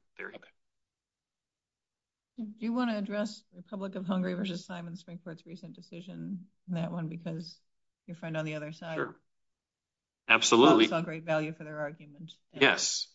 Do you want to address Republic of Hungary versus Simon Springford's recent decision, that one, because your friend on the other side? Absolutely. Great value for their argument. Yes.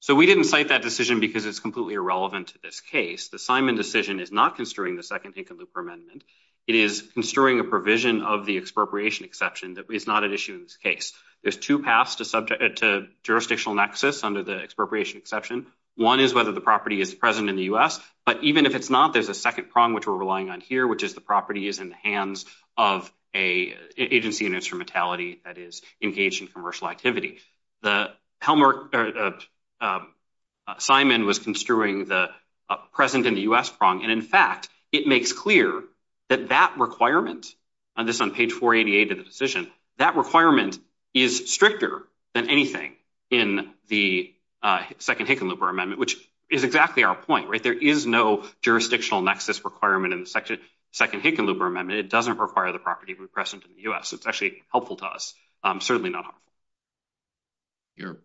So we didn't fight that decision because it's completely irrelevant to this case. The Simon decision is not construing the second Tinker Looper Amendment. It is construing a provision of the expropriation exception that is not an issue in this case. There's two paths to jurisdictional nexus under the expropriation exception. One is whether the property is present in the U.S., but even if it's not, there's a second prong which we're relying on here, which is the property is in the hands of an agency and instrumentality that is engaged in commercial activity. Simon was construing the present in the U.S. prong, and in fact, it makes clear that that requirement, and this is on page 488 of the decision, that requirement is stricter than anything in the second Tinker Looper Amendment, which is exactly our point. There is no jurisdictional nexus requirement in the second Tinker Looper Amendment. It doesn't require the property to be present in the U.S. It's actually helpful to us, certainly not harmful. You're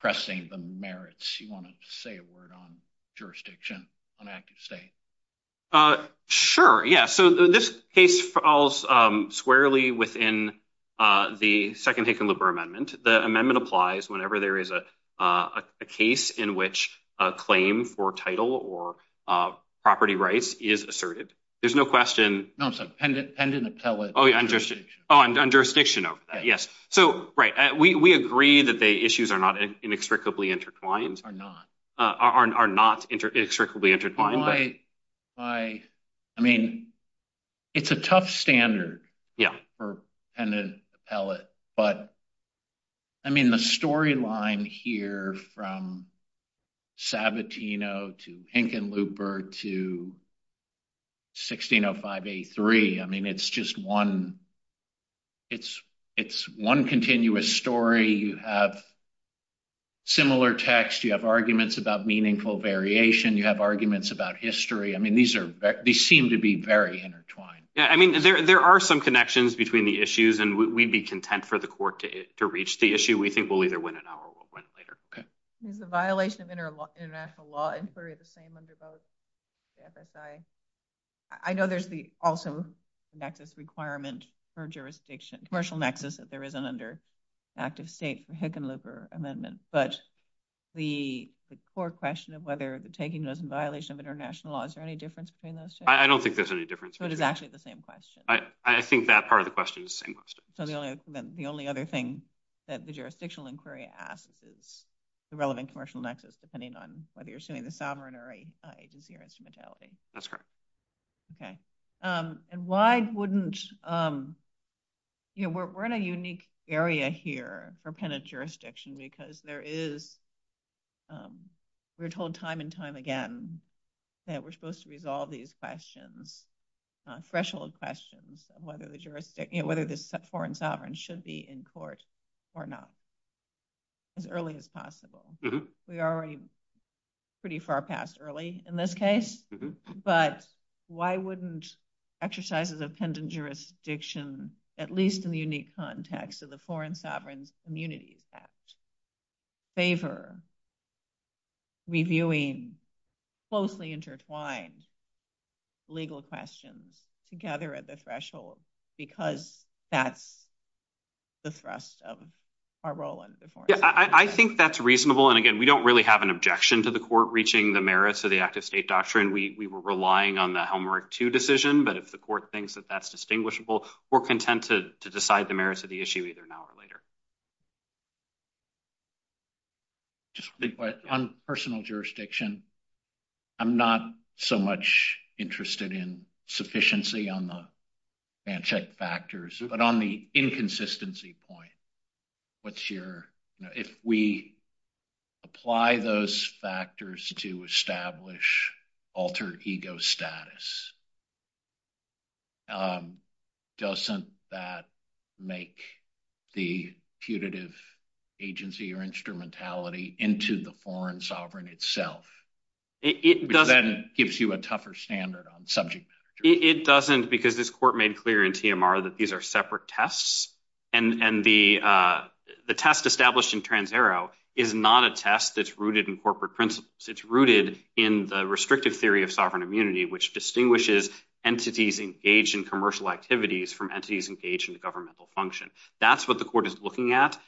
pressing the merits. You wanted to say a word on jurisdiction, on active state. Sure, yeah. So, this case falls squarely within the second Tinker Looper Amendment. The amendment applies whenever there is a case in which a claim for title or property rights is asserted. There's no question. No, I'm sorry, pending appellate jurisdiction. Oh, on jurisdiction, yes. So, right, we agree that the issues are not inextricably intertwined. Are not. Are not inextricably intertwined. I mean, it's a tough standard for an appellate, but, I mean, the storyline here from Sabatino to Tinker Looper to 160583, I mean, it's just one, it's one continuous story. You have similar text. You have arguments about meaningful variation. You have arguments about history. I mean, these seem to be very intertwined. Yeah, I mean, there are some connections between the issues, and we'd be content for the court to reach the issue. We think we'll either win it now or we'll win it later. Is the violation of international law inquiry the same under both FSI? I know there's the also nexus requirement for jurisdiction, commercial nexus if there is an under active state for Hick and Looper Amendment, but the court question of whether taking those in violation of international law, is there any difference between those two? I don't think there's any difference. So, it's actually the same question. I think that part of the question is the same question. So, the only other thing that the jurisdictional inquiry asks is the relevant commercial nexus, depending on whether you're saying the sovereign or agency or instrumentality. That's correct. Okay. And why wouldn't, you know, we're in a unique area here for penitent jurisdiction because there is, we're told time and time again that we're supposed to resolve these questions, threshold questions, whether the foreign sovereign should be in court or not as early as possible. We are already pretty far past early in this case, but why wouldn't exercises of penitent jurisdiction, at least in the unique context of the Foreign Sovereign Immunity Act, favor reviewing closely intertwined legal questions together at the threshold because that's the thrust of our role in the foreign sovereign. Yeah, I think that's reasonable. And again, we don't really have an objection to the court reaching the merits of the active state doctrine. We were relying on the Helmerick II decision, but if the court thinks that that's distinguishable, we're content to decide the merits of the issue either now or later. On personal jurisdiction, I'm not so much interested in sufficiency on the fact check factors, but on the inconsistency point, what's your, if we apply those factors to establish altered ego status, doesn't that make the punitive agency or instrumentality into the foreign sovereign itself? It doesn't. Because that gives you a tougher standard on subject matter. It doesn't because this court made clear in TMR that these are separate tests. And the test established in Trans-Ero is not a test that's rooted in corporate principles. It's rooted in the restrictive theory of sovereign immunity, which distinguishes entities engaged in commercial activities from entities engaged in governmental function. That's what the court is looking at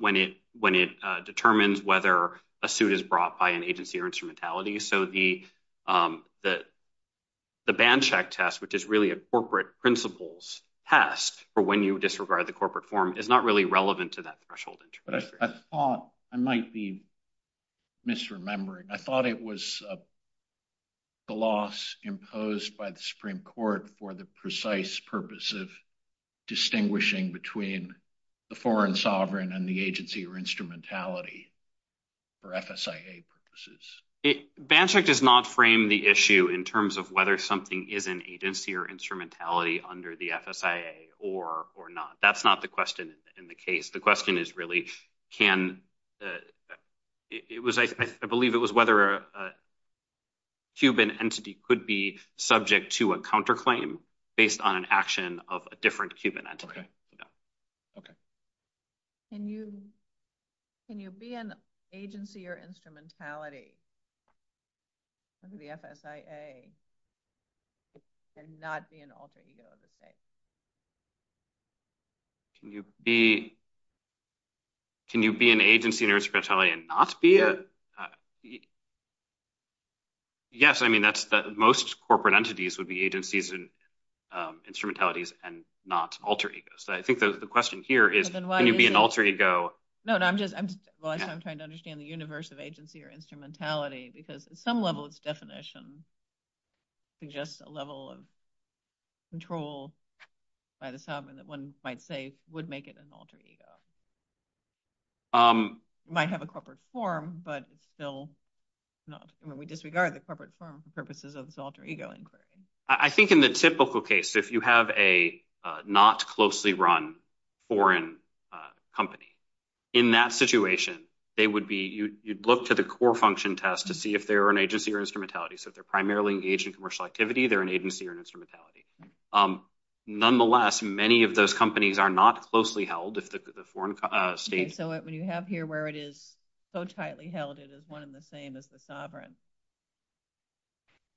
when it determines whether a suit is brought by an agency or instrumentality. So the band check test, which is really a corporate principles test for when you disregard the corporate form, is not really relevant to that threshold. I might be misremembering. I thought it was a loss imposed by the Supreme Court for the precise purpose of distinguishing between the foreign sovereign and the agency or instrumentality for FSIA purposes. Band check does not frame the issue in terms of whether something is an agency or instrumentality under the FSIA or not. That's not the question in the case. The question is really can, I believe it was whether a Cuban entity could be subject to a counterclaim based on an action of a different Cuban entity. Okay. Can you be an agency or instrumentality under the FSIA and not be an alter ego of the state? Can you be an agency or instrumentality and not be? Yes, I mean, most corporate entities would be agencies and instrumentalities and not alter egos. I think the question here is can you be an alter ego? No, I'm just trying to understand the universe of agency or instrumentality because at some level its definition suggests a level of control by the sovereign that one might say would make it an alter ego. It might have a corporate form, but still we disregard the corporate form for purposes of alter ego inquiry. I think in the typical case, if you have a not closely run foreign company, in that situation, they would be, you'd look to the core function test to see if they're an agency or instrumentality. So if they're primarily engaged in commercial activity, they're an agency or instrumentality. Nonetheless, many of those companies are not closely held. So when you have here where it is so tightly held, it is one and the same as the sovereign.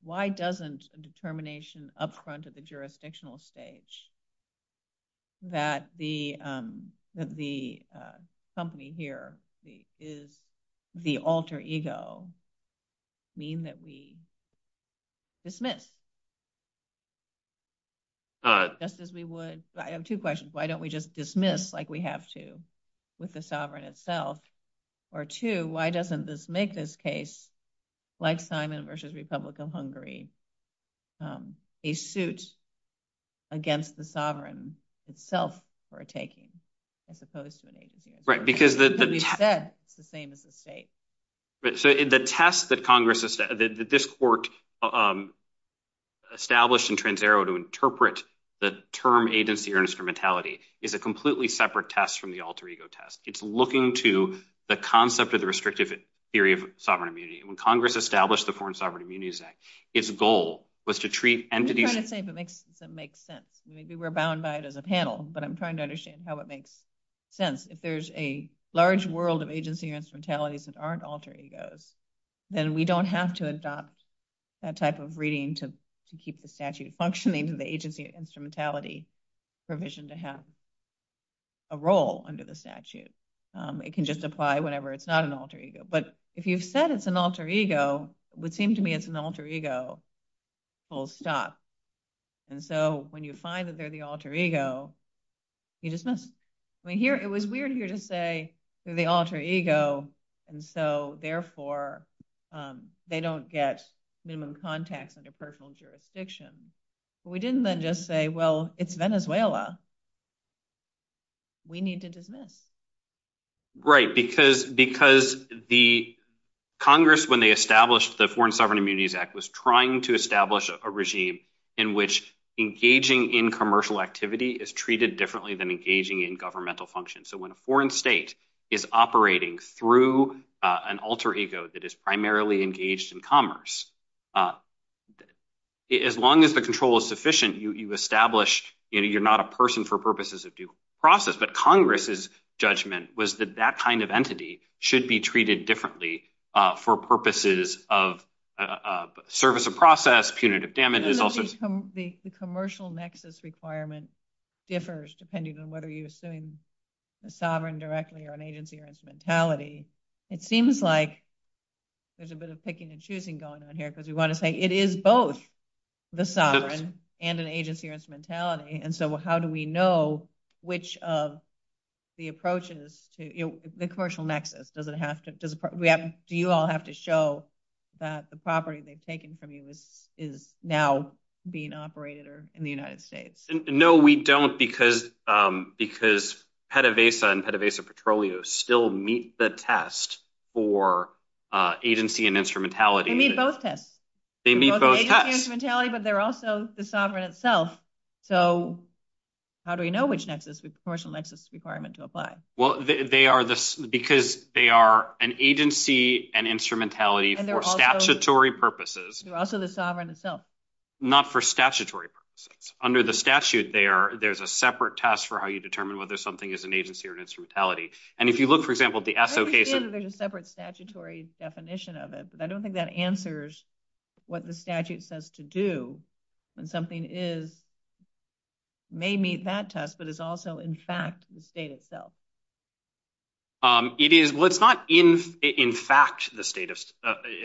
Why doesn't a determination up front at the jurisdictional stage that the company here is the alter ego mean that we dismiss? Just as we would, I have two questions. Why don't we just dismiss like we have to with the sovereign itself? Or two, why doesn't this make this case, like Simon versus Republic of Hungary, a suit against the sovereign itself for a taking as opposed to an agency? Right, because the test is the same as the state. The test that this court established in TransAero to interpret the term agency or instrumentality is a completely separate test from the alter ego test. It's looking to the concept of the restrictive theory of sovereign immunity. When Congress established the Foreign Sovereign Immunities Act, its goal was to treat entities- I'm just trying to see if it makes sense. Maybe we're bound by it as a panel, but I'm trying to understand how it makes sense. If there's a large world of agency or instrumentality that aren't alter egos, then we don't have to adopt that type of reading to keep the statute functioning. The agency or instrumentality provision to have a role under the statute. It can just apply whenever it's not an alter ego. But if you said it's an alter ego, it would seem to me it's an alter ego full stop. When you find that they're the alter ego, you dismiss them. It was weird here to say they're the alter ego, and so, therefore, they don't get minimum contact under personal jurisdiction. We didn't then just say, well, it's Venezuela. We need to dismiss. Right, because the Congress, when they established the Foreign Sovereign Immunities Act, was trying to establish a regime in which engaging in commercial activity is treated differently than engaging in governmental function. So, when a foreign state is operating through an alter ego that is primarily engaged in commerce, as long as the control is sufficient, you establish you're not a person for purposes of due process. But Congress's judgment was that that kind of entity should be treated differently for purposes of service of process, punitive damages. The commercial nexus requirement differs depending on whether you assume the sovereign directly or an agency or instrumentality. It seems like there's a bit of picking and choosing going on here because we want to say it is both the sovereign and an agency or instrumentality. And so, how do we know which of the approaches to the commercial nexus? Do you all have to show that the property they've taken from you is now being operated or in the United States? No, we don't because PEDAVASA and PEDAVASA Petroleum still meet the test for agency and instrumentality. They meet both tests. They meet both tests. But they're also the sovereign itself. So, how do we know which commercial nexus requirement to apply? Well, because they are an agency and instrumentality for statutory purposes. They're also the sovereign itself. Not for statutory purposes. Under the statute there, there's a separate test for how you determine whether something is an agency or instrumentality. I understand that there's a separate statutory definition of it. But I don't think that answers what the statute says to do when something may meet that test but is also in fact the state itself. It's not in fact the state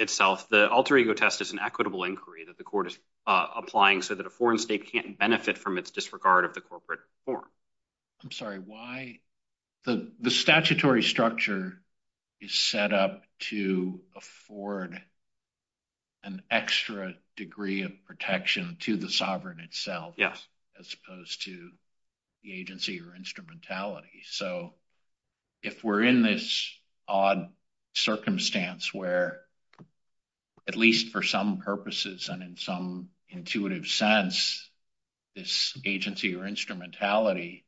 itself. The alter ego test is an equitable inquiry that the court is applying so that a foreign state can't benefit from its disregard of the corporate form. I'm sorry. The statutory structure is set up to afford an extra degree of protection to the sovereign itself as opposed to the agency or instrumentality. So, if we're in this odd circumstance where, at least for some purposes and in some intuitive sense, this agency or instrumentality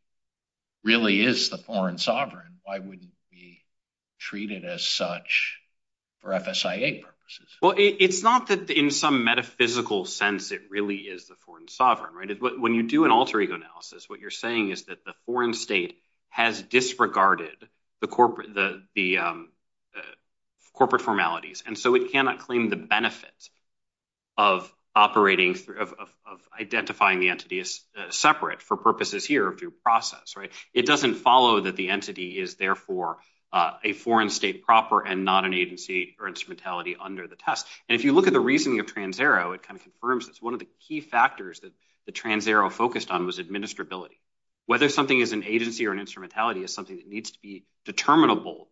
really is the foreign sovereign, why wouldn't it be treated as such for FSIA purposes? Well, it's not that in some metaphysical sense it really is the foreign sovereign. When you do an alter ego analysis, what you're saying is that the foreign state has disregarded the corporate formalities. And so it cannot claim the benefits of identifying the entities separate for purposes here of due process. It doesn't follow that the entity is therefore a foreign state proper and not an agency or instrumentality under the test. And if you look at the reasoning of TransAero, it kind of confirms this. One of the key factors that the TransAero focused on was administrability. Whether something is an agency or an instrumentality is something that needs to be determinable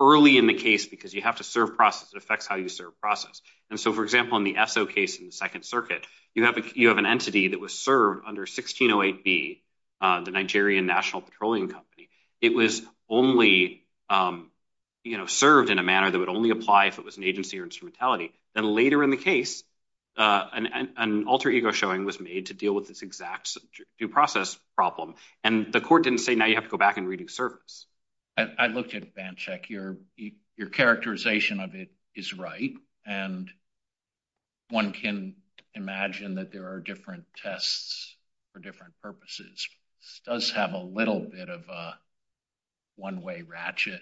early in the case because you have to serve process affects how you serve process. And so, for example, in the ESSO case in the Second Circuit, you have an entity that was served under 1608B, the Nigerian National Petroleum Company. It was only served in a manner that would only apply if it was an agency or instrumentality. And later in the case, an alter ego showing was made to deal with this exact due process problem. And the court didn't say, now you have to go back and redo service. I looked at Bandcheck. Your characterization of it is right. And one can imagine that there are different tests for different purposes. This does have a little bit of a one-way ratchet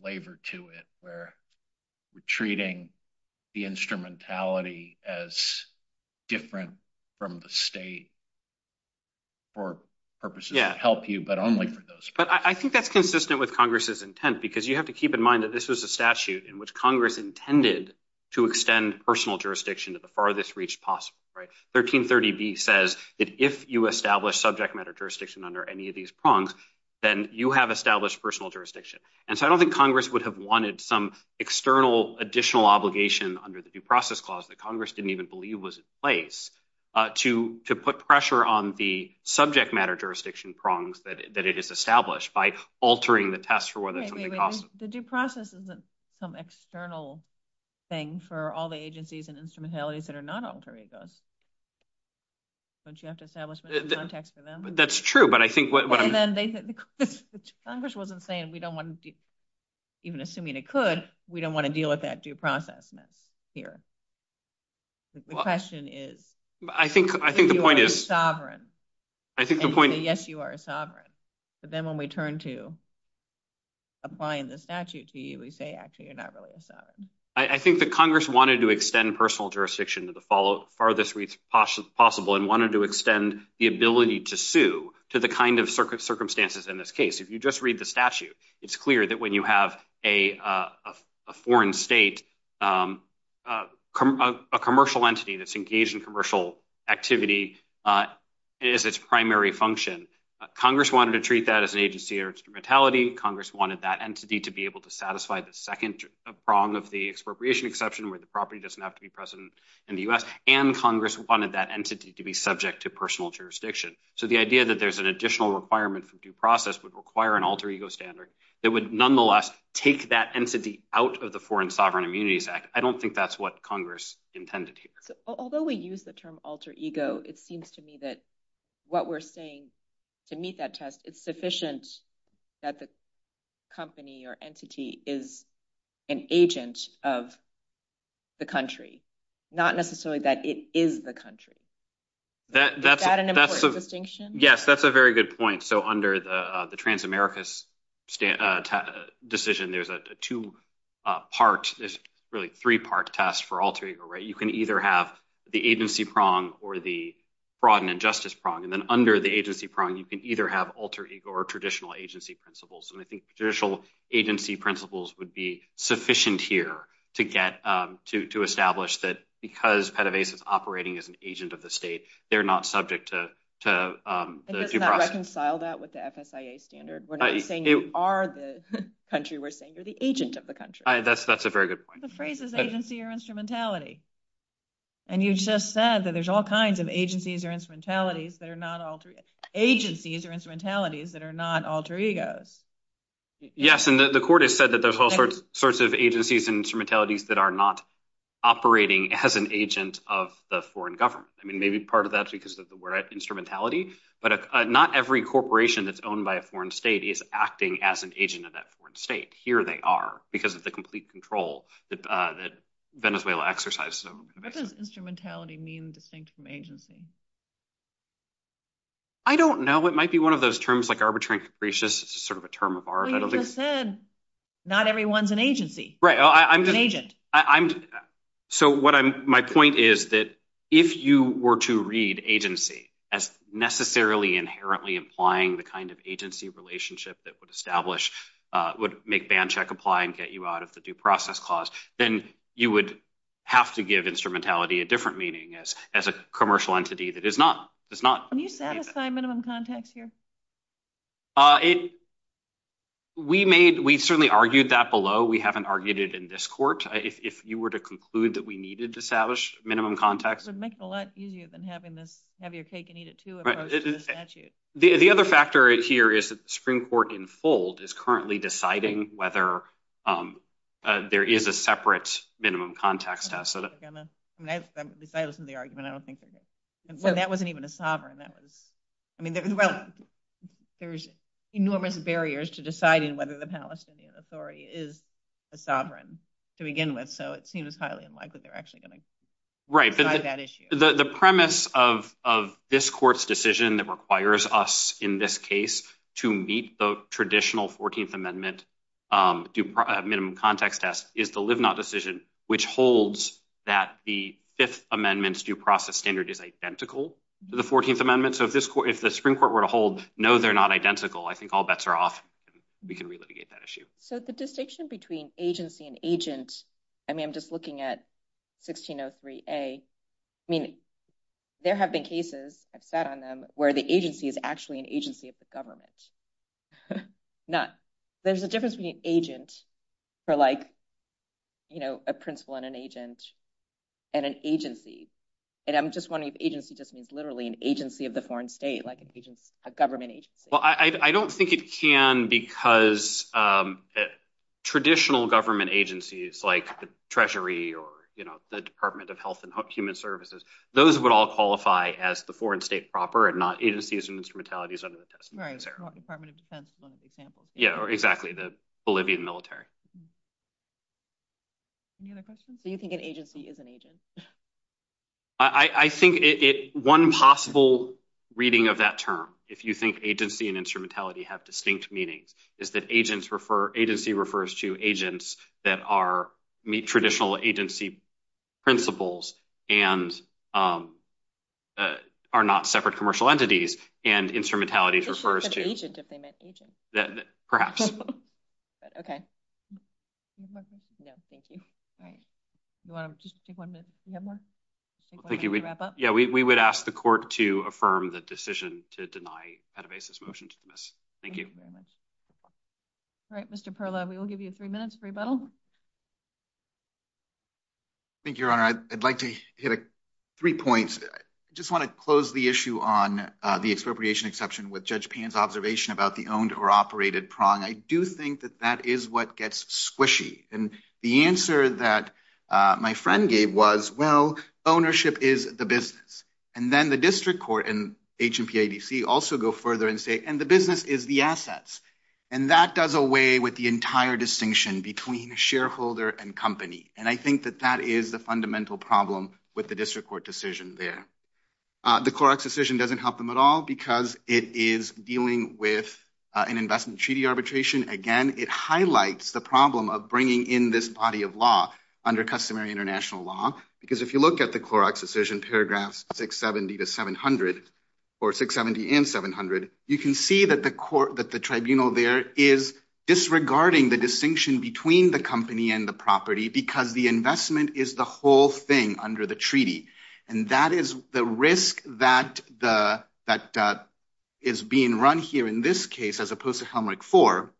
flavor to it where we're treating the instrumentality as different from the state for purposes that help you, but only for those purposes. But I think that's consistent with Congress's intent because you have to keep in mind that this was a statute in which Congress intended to extend personal jurisdiction to the farthest reach possible. 1330B says if you establish subject matter jurisdiction under any of these prongs, then you have established personal jurisdiction. And so I don't think Congress would have wanted some external additional obligation under the due process clause that Congress didn't even believe was in place to put pressure on the subject matter jurisdiction prongs that it has established by altering the test for whether something costs them. The due process isn't some external thing for all the agencies and instrumentalities that are not alter egos. Don't you have to establish them in the context of them? That's true, but I think what I'm- Congress wasn't saying we don't want to, even assuming it could, we don't want to deal with that due process here. The question is- I think the point is- You are a sovereign. I think the point is- Yes, you are a sovereign. But then when we turn to applying the statute to you, we say actually you're not really a sovereign. I think that Congress wanted to extend personal jurisdiction to the farthest reach possible and wanted to extend the ability to sue to the kind of circumstances in this case. If you just read the statute, it's clear that when you have a foreign state, a commercial entity that's engaged in commercial activity is its primary function. Congress wanted to treat that as an agency or instrumentality. Congress wanted that entity to be able to satisfy the second prong of the expropriation exception where the property doesn't have to be present in the U.S. And Congress wanted that entity to be subject to personal jurisdiction. So the idea that there's an additional requirement for due process would require an alter ego standard that would nonetheless take that entity out of the Foreign Sovereign Immunities Act. I don't think that's what Congress intended here. Although we use the term alter ego, it seems to me that what we're saying to meet that test is sufficient that the company or entity is an agent of the country, not necessarily that it is the country. Is that an important distinction? Yes, that's a very good point. So under the Transamerica's decision, there's a two-part, really three-part test for alter ego, right? You can either have the agency prong or the fraud and injustice prong. And then under the agency prong, you can either have alter ego or traditional agency principles. And I think traditional agency principles would be sufficient here to establish that because PEDAVASIS is operating as an agent of the state, they're not subject to the due process. So we're not trying to reconcile that with the FSIA standard. We're not saying you are the country. We're saying you're the agent of the country. That's a very good point. The phrase is agency or instrumentality. And you just said that there's all kinds of agencies or instrumentalities that are not alter egos. Yes, and the court has said that there are all sorts of agencies and instrumentalities that are not operating as an agent of the foreign government. I mean, maybe part of that is because of the word instrumentality. But not every corporation that's owned by a foreign state is acting as an agent of that foreign state. Here they are because of the complete control that Venezuela exercises over them. What does instrumentality mean distinct from agency? I don't know. It might be one of those terms like arbitrary capricious. It's sort of a term of ours. Well, you just said not everyone's an agency. Right. An agent. So my point is that if you were to read agency as necessarily inherently implying the kind of agency relationship that would establish, would make ban check apply and get you out of the due process clause, then you would have to give instrumentality a different meaning as a commercial entity that is not. Can you satisfy minimum context here? We certainly argued that below. We haven't argued it in this court. If you were to conclude that we needed to establish minimum context. It would make it a lot easier than having to have your cake and eat it, too. Right. The other factor here is that the Supreme Court in full is currently deciding whether there is a separate minimum context. The argument, I don't think that wasn't even a sovereign. I mean, there's enormous barriers to deciding whether the Palestinian Authority is a sovereign to begin with. So it seems highly unlikely they're actually going to write that issue. The premise of this court's decision that requires us in this case to meet the traditional 14th Amendment. Minimum context test is the live not decision, which holds that the Fifth Amendment's due process standard is identical to the 14th Amendment. So if the Supreme Court were to hold, no, they're not identical. I think all bets are off. We can relitigate that issue. So the distinction between agency and agent. I mean, I'm just looking at 1603A. I mean, there have been cases where the agency is actually an agency of the government. None. There's a difference between an agent for like a principal and an agent and an agency. And I'm just wondering if agency just means literally an agency of the foreign state, like a government agency. Well, I don't think it can because traditional government agencies like the Treasury or the Department of Health and Human Services, those would all qualify as the foreign state proper and not agencies and instrumentalities under the test. Right. Yeah, exactly. The Bolivian military. Do you think an agency is an agent? I think one possible reading of that term, if you think agency and instrumentality have distinct meaning, is that agency refers to agents that meet traditional agency principles and are not separate commercial entities. And instrumentality refers to... Just say agent if they meant agent. Perhaps. Okay. Yeah, thank you. All right. Do you want to just take one minute? Do you have more? Thank you. Yeah, we would ask the court to affirm the decision to deny Pettibase's motion to dismiss. Thank you. All right, Mr. Perlow, we will give you three minutes for rebuttal. Thank you, Your Honor. I'd like to hit three points. I just want to close the issue on the appropriation exception with Judge Payne's observation about the owned or operated prong. I do think that that is what gets squishy. And the answer that my friend gave was, well, ownership is the business. And then the district court and HMPA DC also go further and say, and the business is the assets. And that does away with the entire distinction between shareholder and company. And I think that that is the fundamental problem with the district court decision there. The Clorox decision doesn't help them at all because it is dealing with an investment treaty arbitration. Again, it highlights the problem of bringing in this body of law under customary international law. Because if you look at the Clorox decision, paragraphs 670 to 700, or 670 and 700, you can see that the court, that the tribunal there is disregarding the distinction between the company and the property because the investment is the whole thing under the treaty. And that is the risk that is being run here in this case, as opposed to Helmreich IV,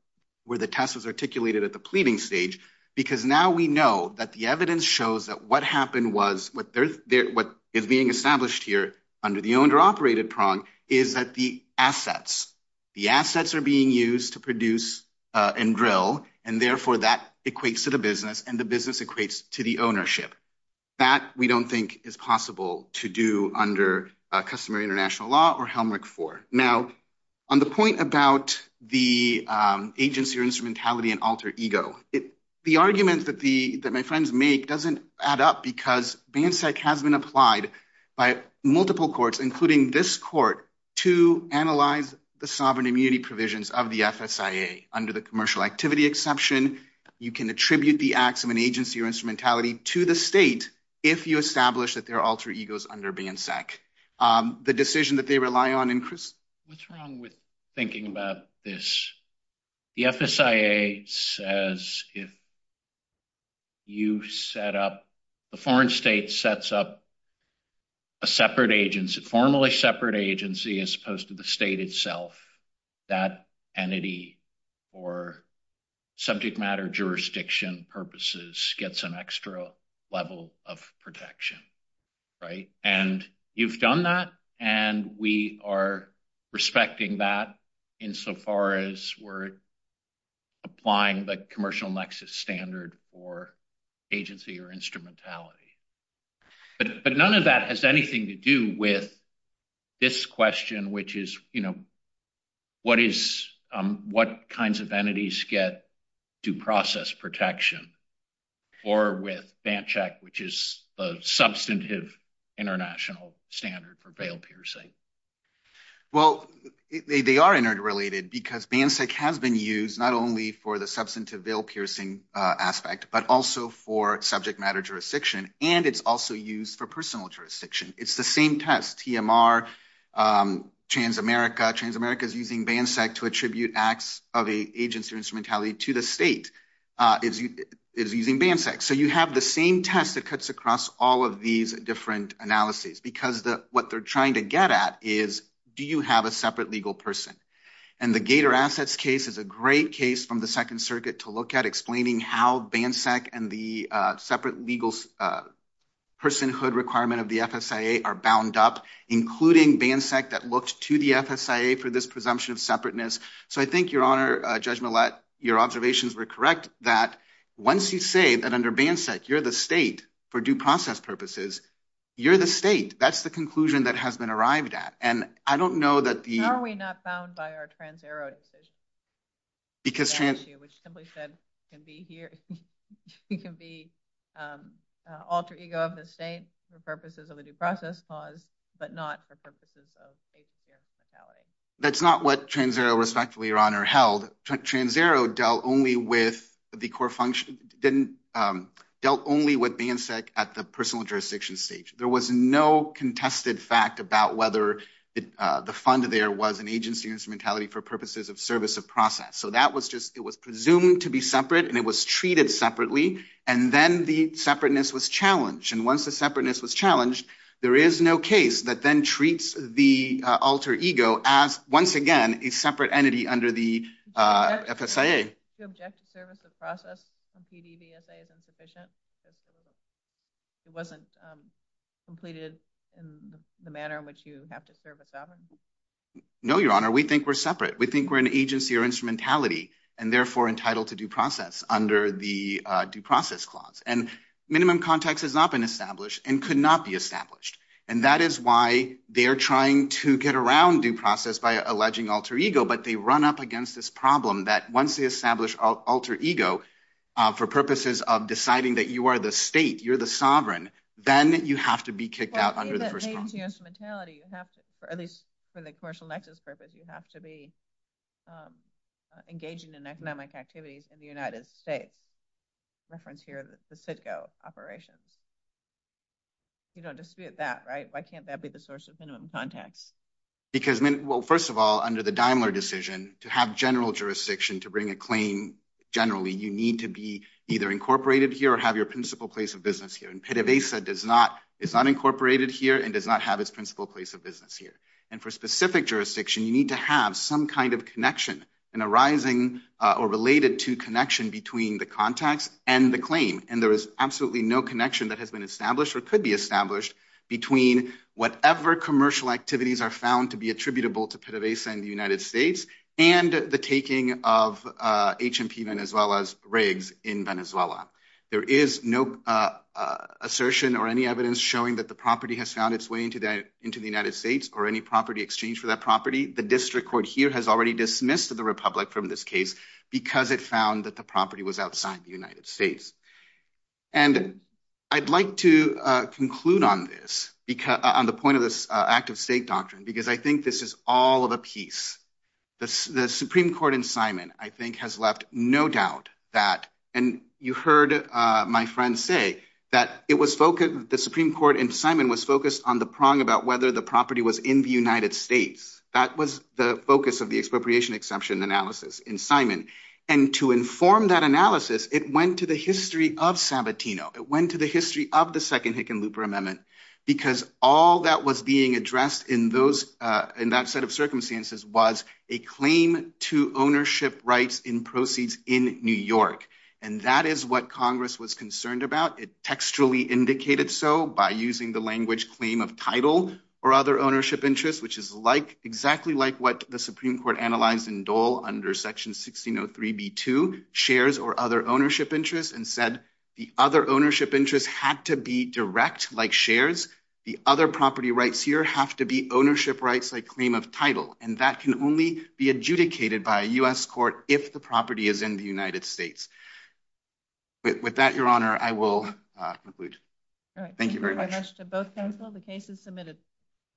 where the test was articulated at the pleading stage. Because now we know that the evidence shows that what happened was, what is being established here under the owner-operated prong is that the assets, the assets are being used to produce and drill, and therefore that equates to the business, and the business equates to the ownership. That we don't think is possible to do under customary international law or Helmreich IV. Now, on the point about the agency or instrumentality and alter ego, the argument that my friends make doesn't add up because BANSEC has been applied by multiple courts, including this court, to analyze the sovereign immunity provisions of the FSIA. Under the commercial activity exception, you can attribute the acts of an agency or instrumentality to the state if you establish that there are alter egos under BANSEC. The decision that they rely on in – What's wrong with thinking about this? The FSIA says if you set up – the foreign state sets up a separate agency, formally separate agency as opposed to the state itself, that entity or subject matter jurisdiction purposes gets an extra level of protection, right? And you've done that, and we are respecting that insofar as we're applying the commercial nexus standard for agency or instrumentality. But none of that has anything to do with this question, which is, you know, what is – what kinds of entities get due process protection? Or with BANSEC, which is a substantive international standard for bail piercing? Well, they are interrelated because BANSEC has been used not only for the substantive bail piercing aspect but also for subject matter jurisdiction, and it's also used for personal jurisdiction. It's the same test, TMR, Transamerica. Transamerica is using BANSEC to attribute acts of agency or instrumentality to the state. It's using BANSEC. So you have the same test that cuts across all of these different analyses because what they're trying to get at is, do you have a separate legal person? And the Gator Assets case is a great case from the Second Circuit to look at explaining how BANSEC and the separate legal personhood requirement of the FSIA are bound up, including BANSEC that looked to the FSIA for this presumption of separateness. So I think, Your Honor, Judge Millett, your observations were correct that once you say that under BANSEC you're the state for due process purposes, you're the state. That's the conclusion that has been arrived at. And I don't know that the – Are we not bound by our Trans-Ero issue? Because – Trans-Ero issue, which simply said can be alter ego of the state for purposes of a due process cause but not for purposes of agency or instrumentality. That's not what Trans-Ero, respectfully, Your Honor, held. Trans-Ero dealt only with BANSEC at the personal jurisdiction stage. There was no contested fact about whether the fund there was an agency or instrumentality for purposes of service of process. So that was just – it was presumed to be separate and it was treated separately, and then the separateness was challenged. Once the separateness was challenged, there is no case that then treats the alter ego as, once again, a separate entity under the FSIA. Do you object to service of process in PDBSA as insufficient? It wasn't completed in the manner in which you have to service that? No, Your Honor. We think we're separate. We think we're an agency or instrumentality and, therefore, entitled to due process under the due process clause. And minimum context has not been established and could not be established, and that is why they're trying to get around due process by alleging alter ego, but they run up against this problem that once they establish alter ego for purposes of deciding that you are the state, you're the sovereign, then you have to be kicked out under the first clause. For agency instrumentality, at least for the commercial nexus purpose, you have to be engaging in economic activities in the United States. Reference here, the CITGO operation. You don't dispute that, right? Why can't that be the source of minimum context? Well, first of all, under the Daimler decision, to have general jurisdiction to bring a claim generally, you need to be either incorporated here or have your principal place of business here, and PDBSA is not incorporated here and does not have its principal place of business here. And for specific jurisdiction, you need to have some kind of connection in arising or related to connection between the contact and the claim, and there is absolutely no connection that has been established or could be established between whatever commercial activities are found to be attributable to PDBSA in the United States and the taking of HMP Venezuela's rigs in Venezuela. There is no assertion or any evidence showing that the property has found its way into the United States or any property exchange for that property. The district court here has already dismissed the republic from this case because it found that the property was outside the United States. And I'd like to conclude on this, on the point of this active state doctrine, because I think this is all of a piece. The Supreme Court in Simon, I think, has left no doubt that, and you heard my friend say that the Supreme Court in Simon was focused on the prong about whether the property was in the United States. That was the focus of the expropriation exception analysis in Simon. And to inform that analysis, it went to the history of San Batino. It went to the history of the second Hickenlooper Amendment because all that was being addressed in that set of circumstances was a claim to ownership rights in proceeds in New York, and that is what Congress was concerned about. It textually indicated so by using the language claim of title or other ownership interest, which is exactly like what the Supreme Court analyzed in Dole under Section 1603B2, shares or other ownership interest, and said the other ownership interest had to be direct like shares. The other property rights here have to be ownership rights like claim of title, and that can only be adjudicated by a U.S. court if the property is in the United States. With that, Your Honor, I will conclude. Thank you very much. The case is submitted.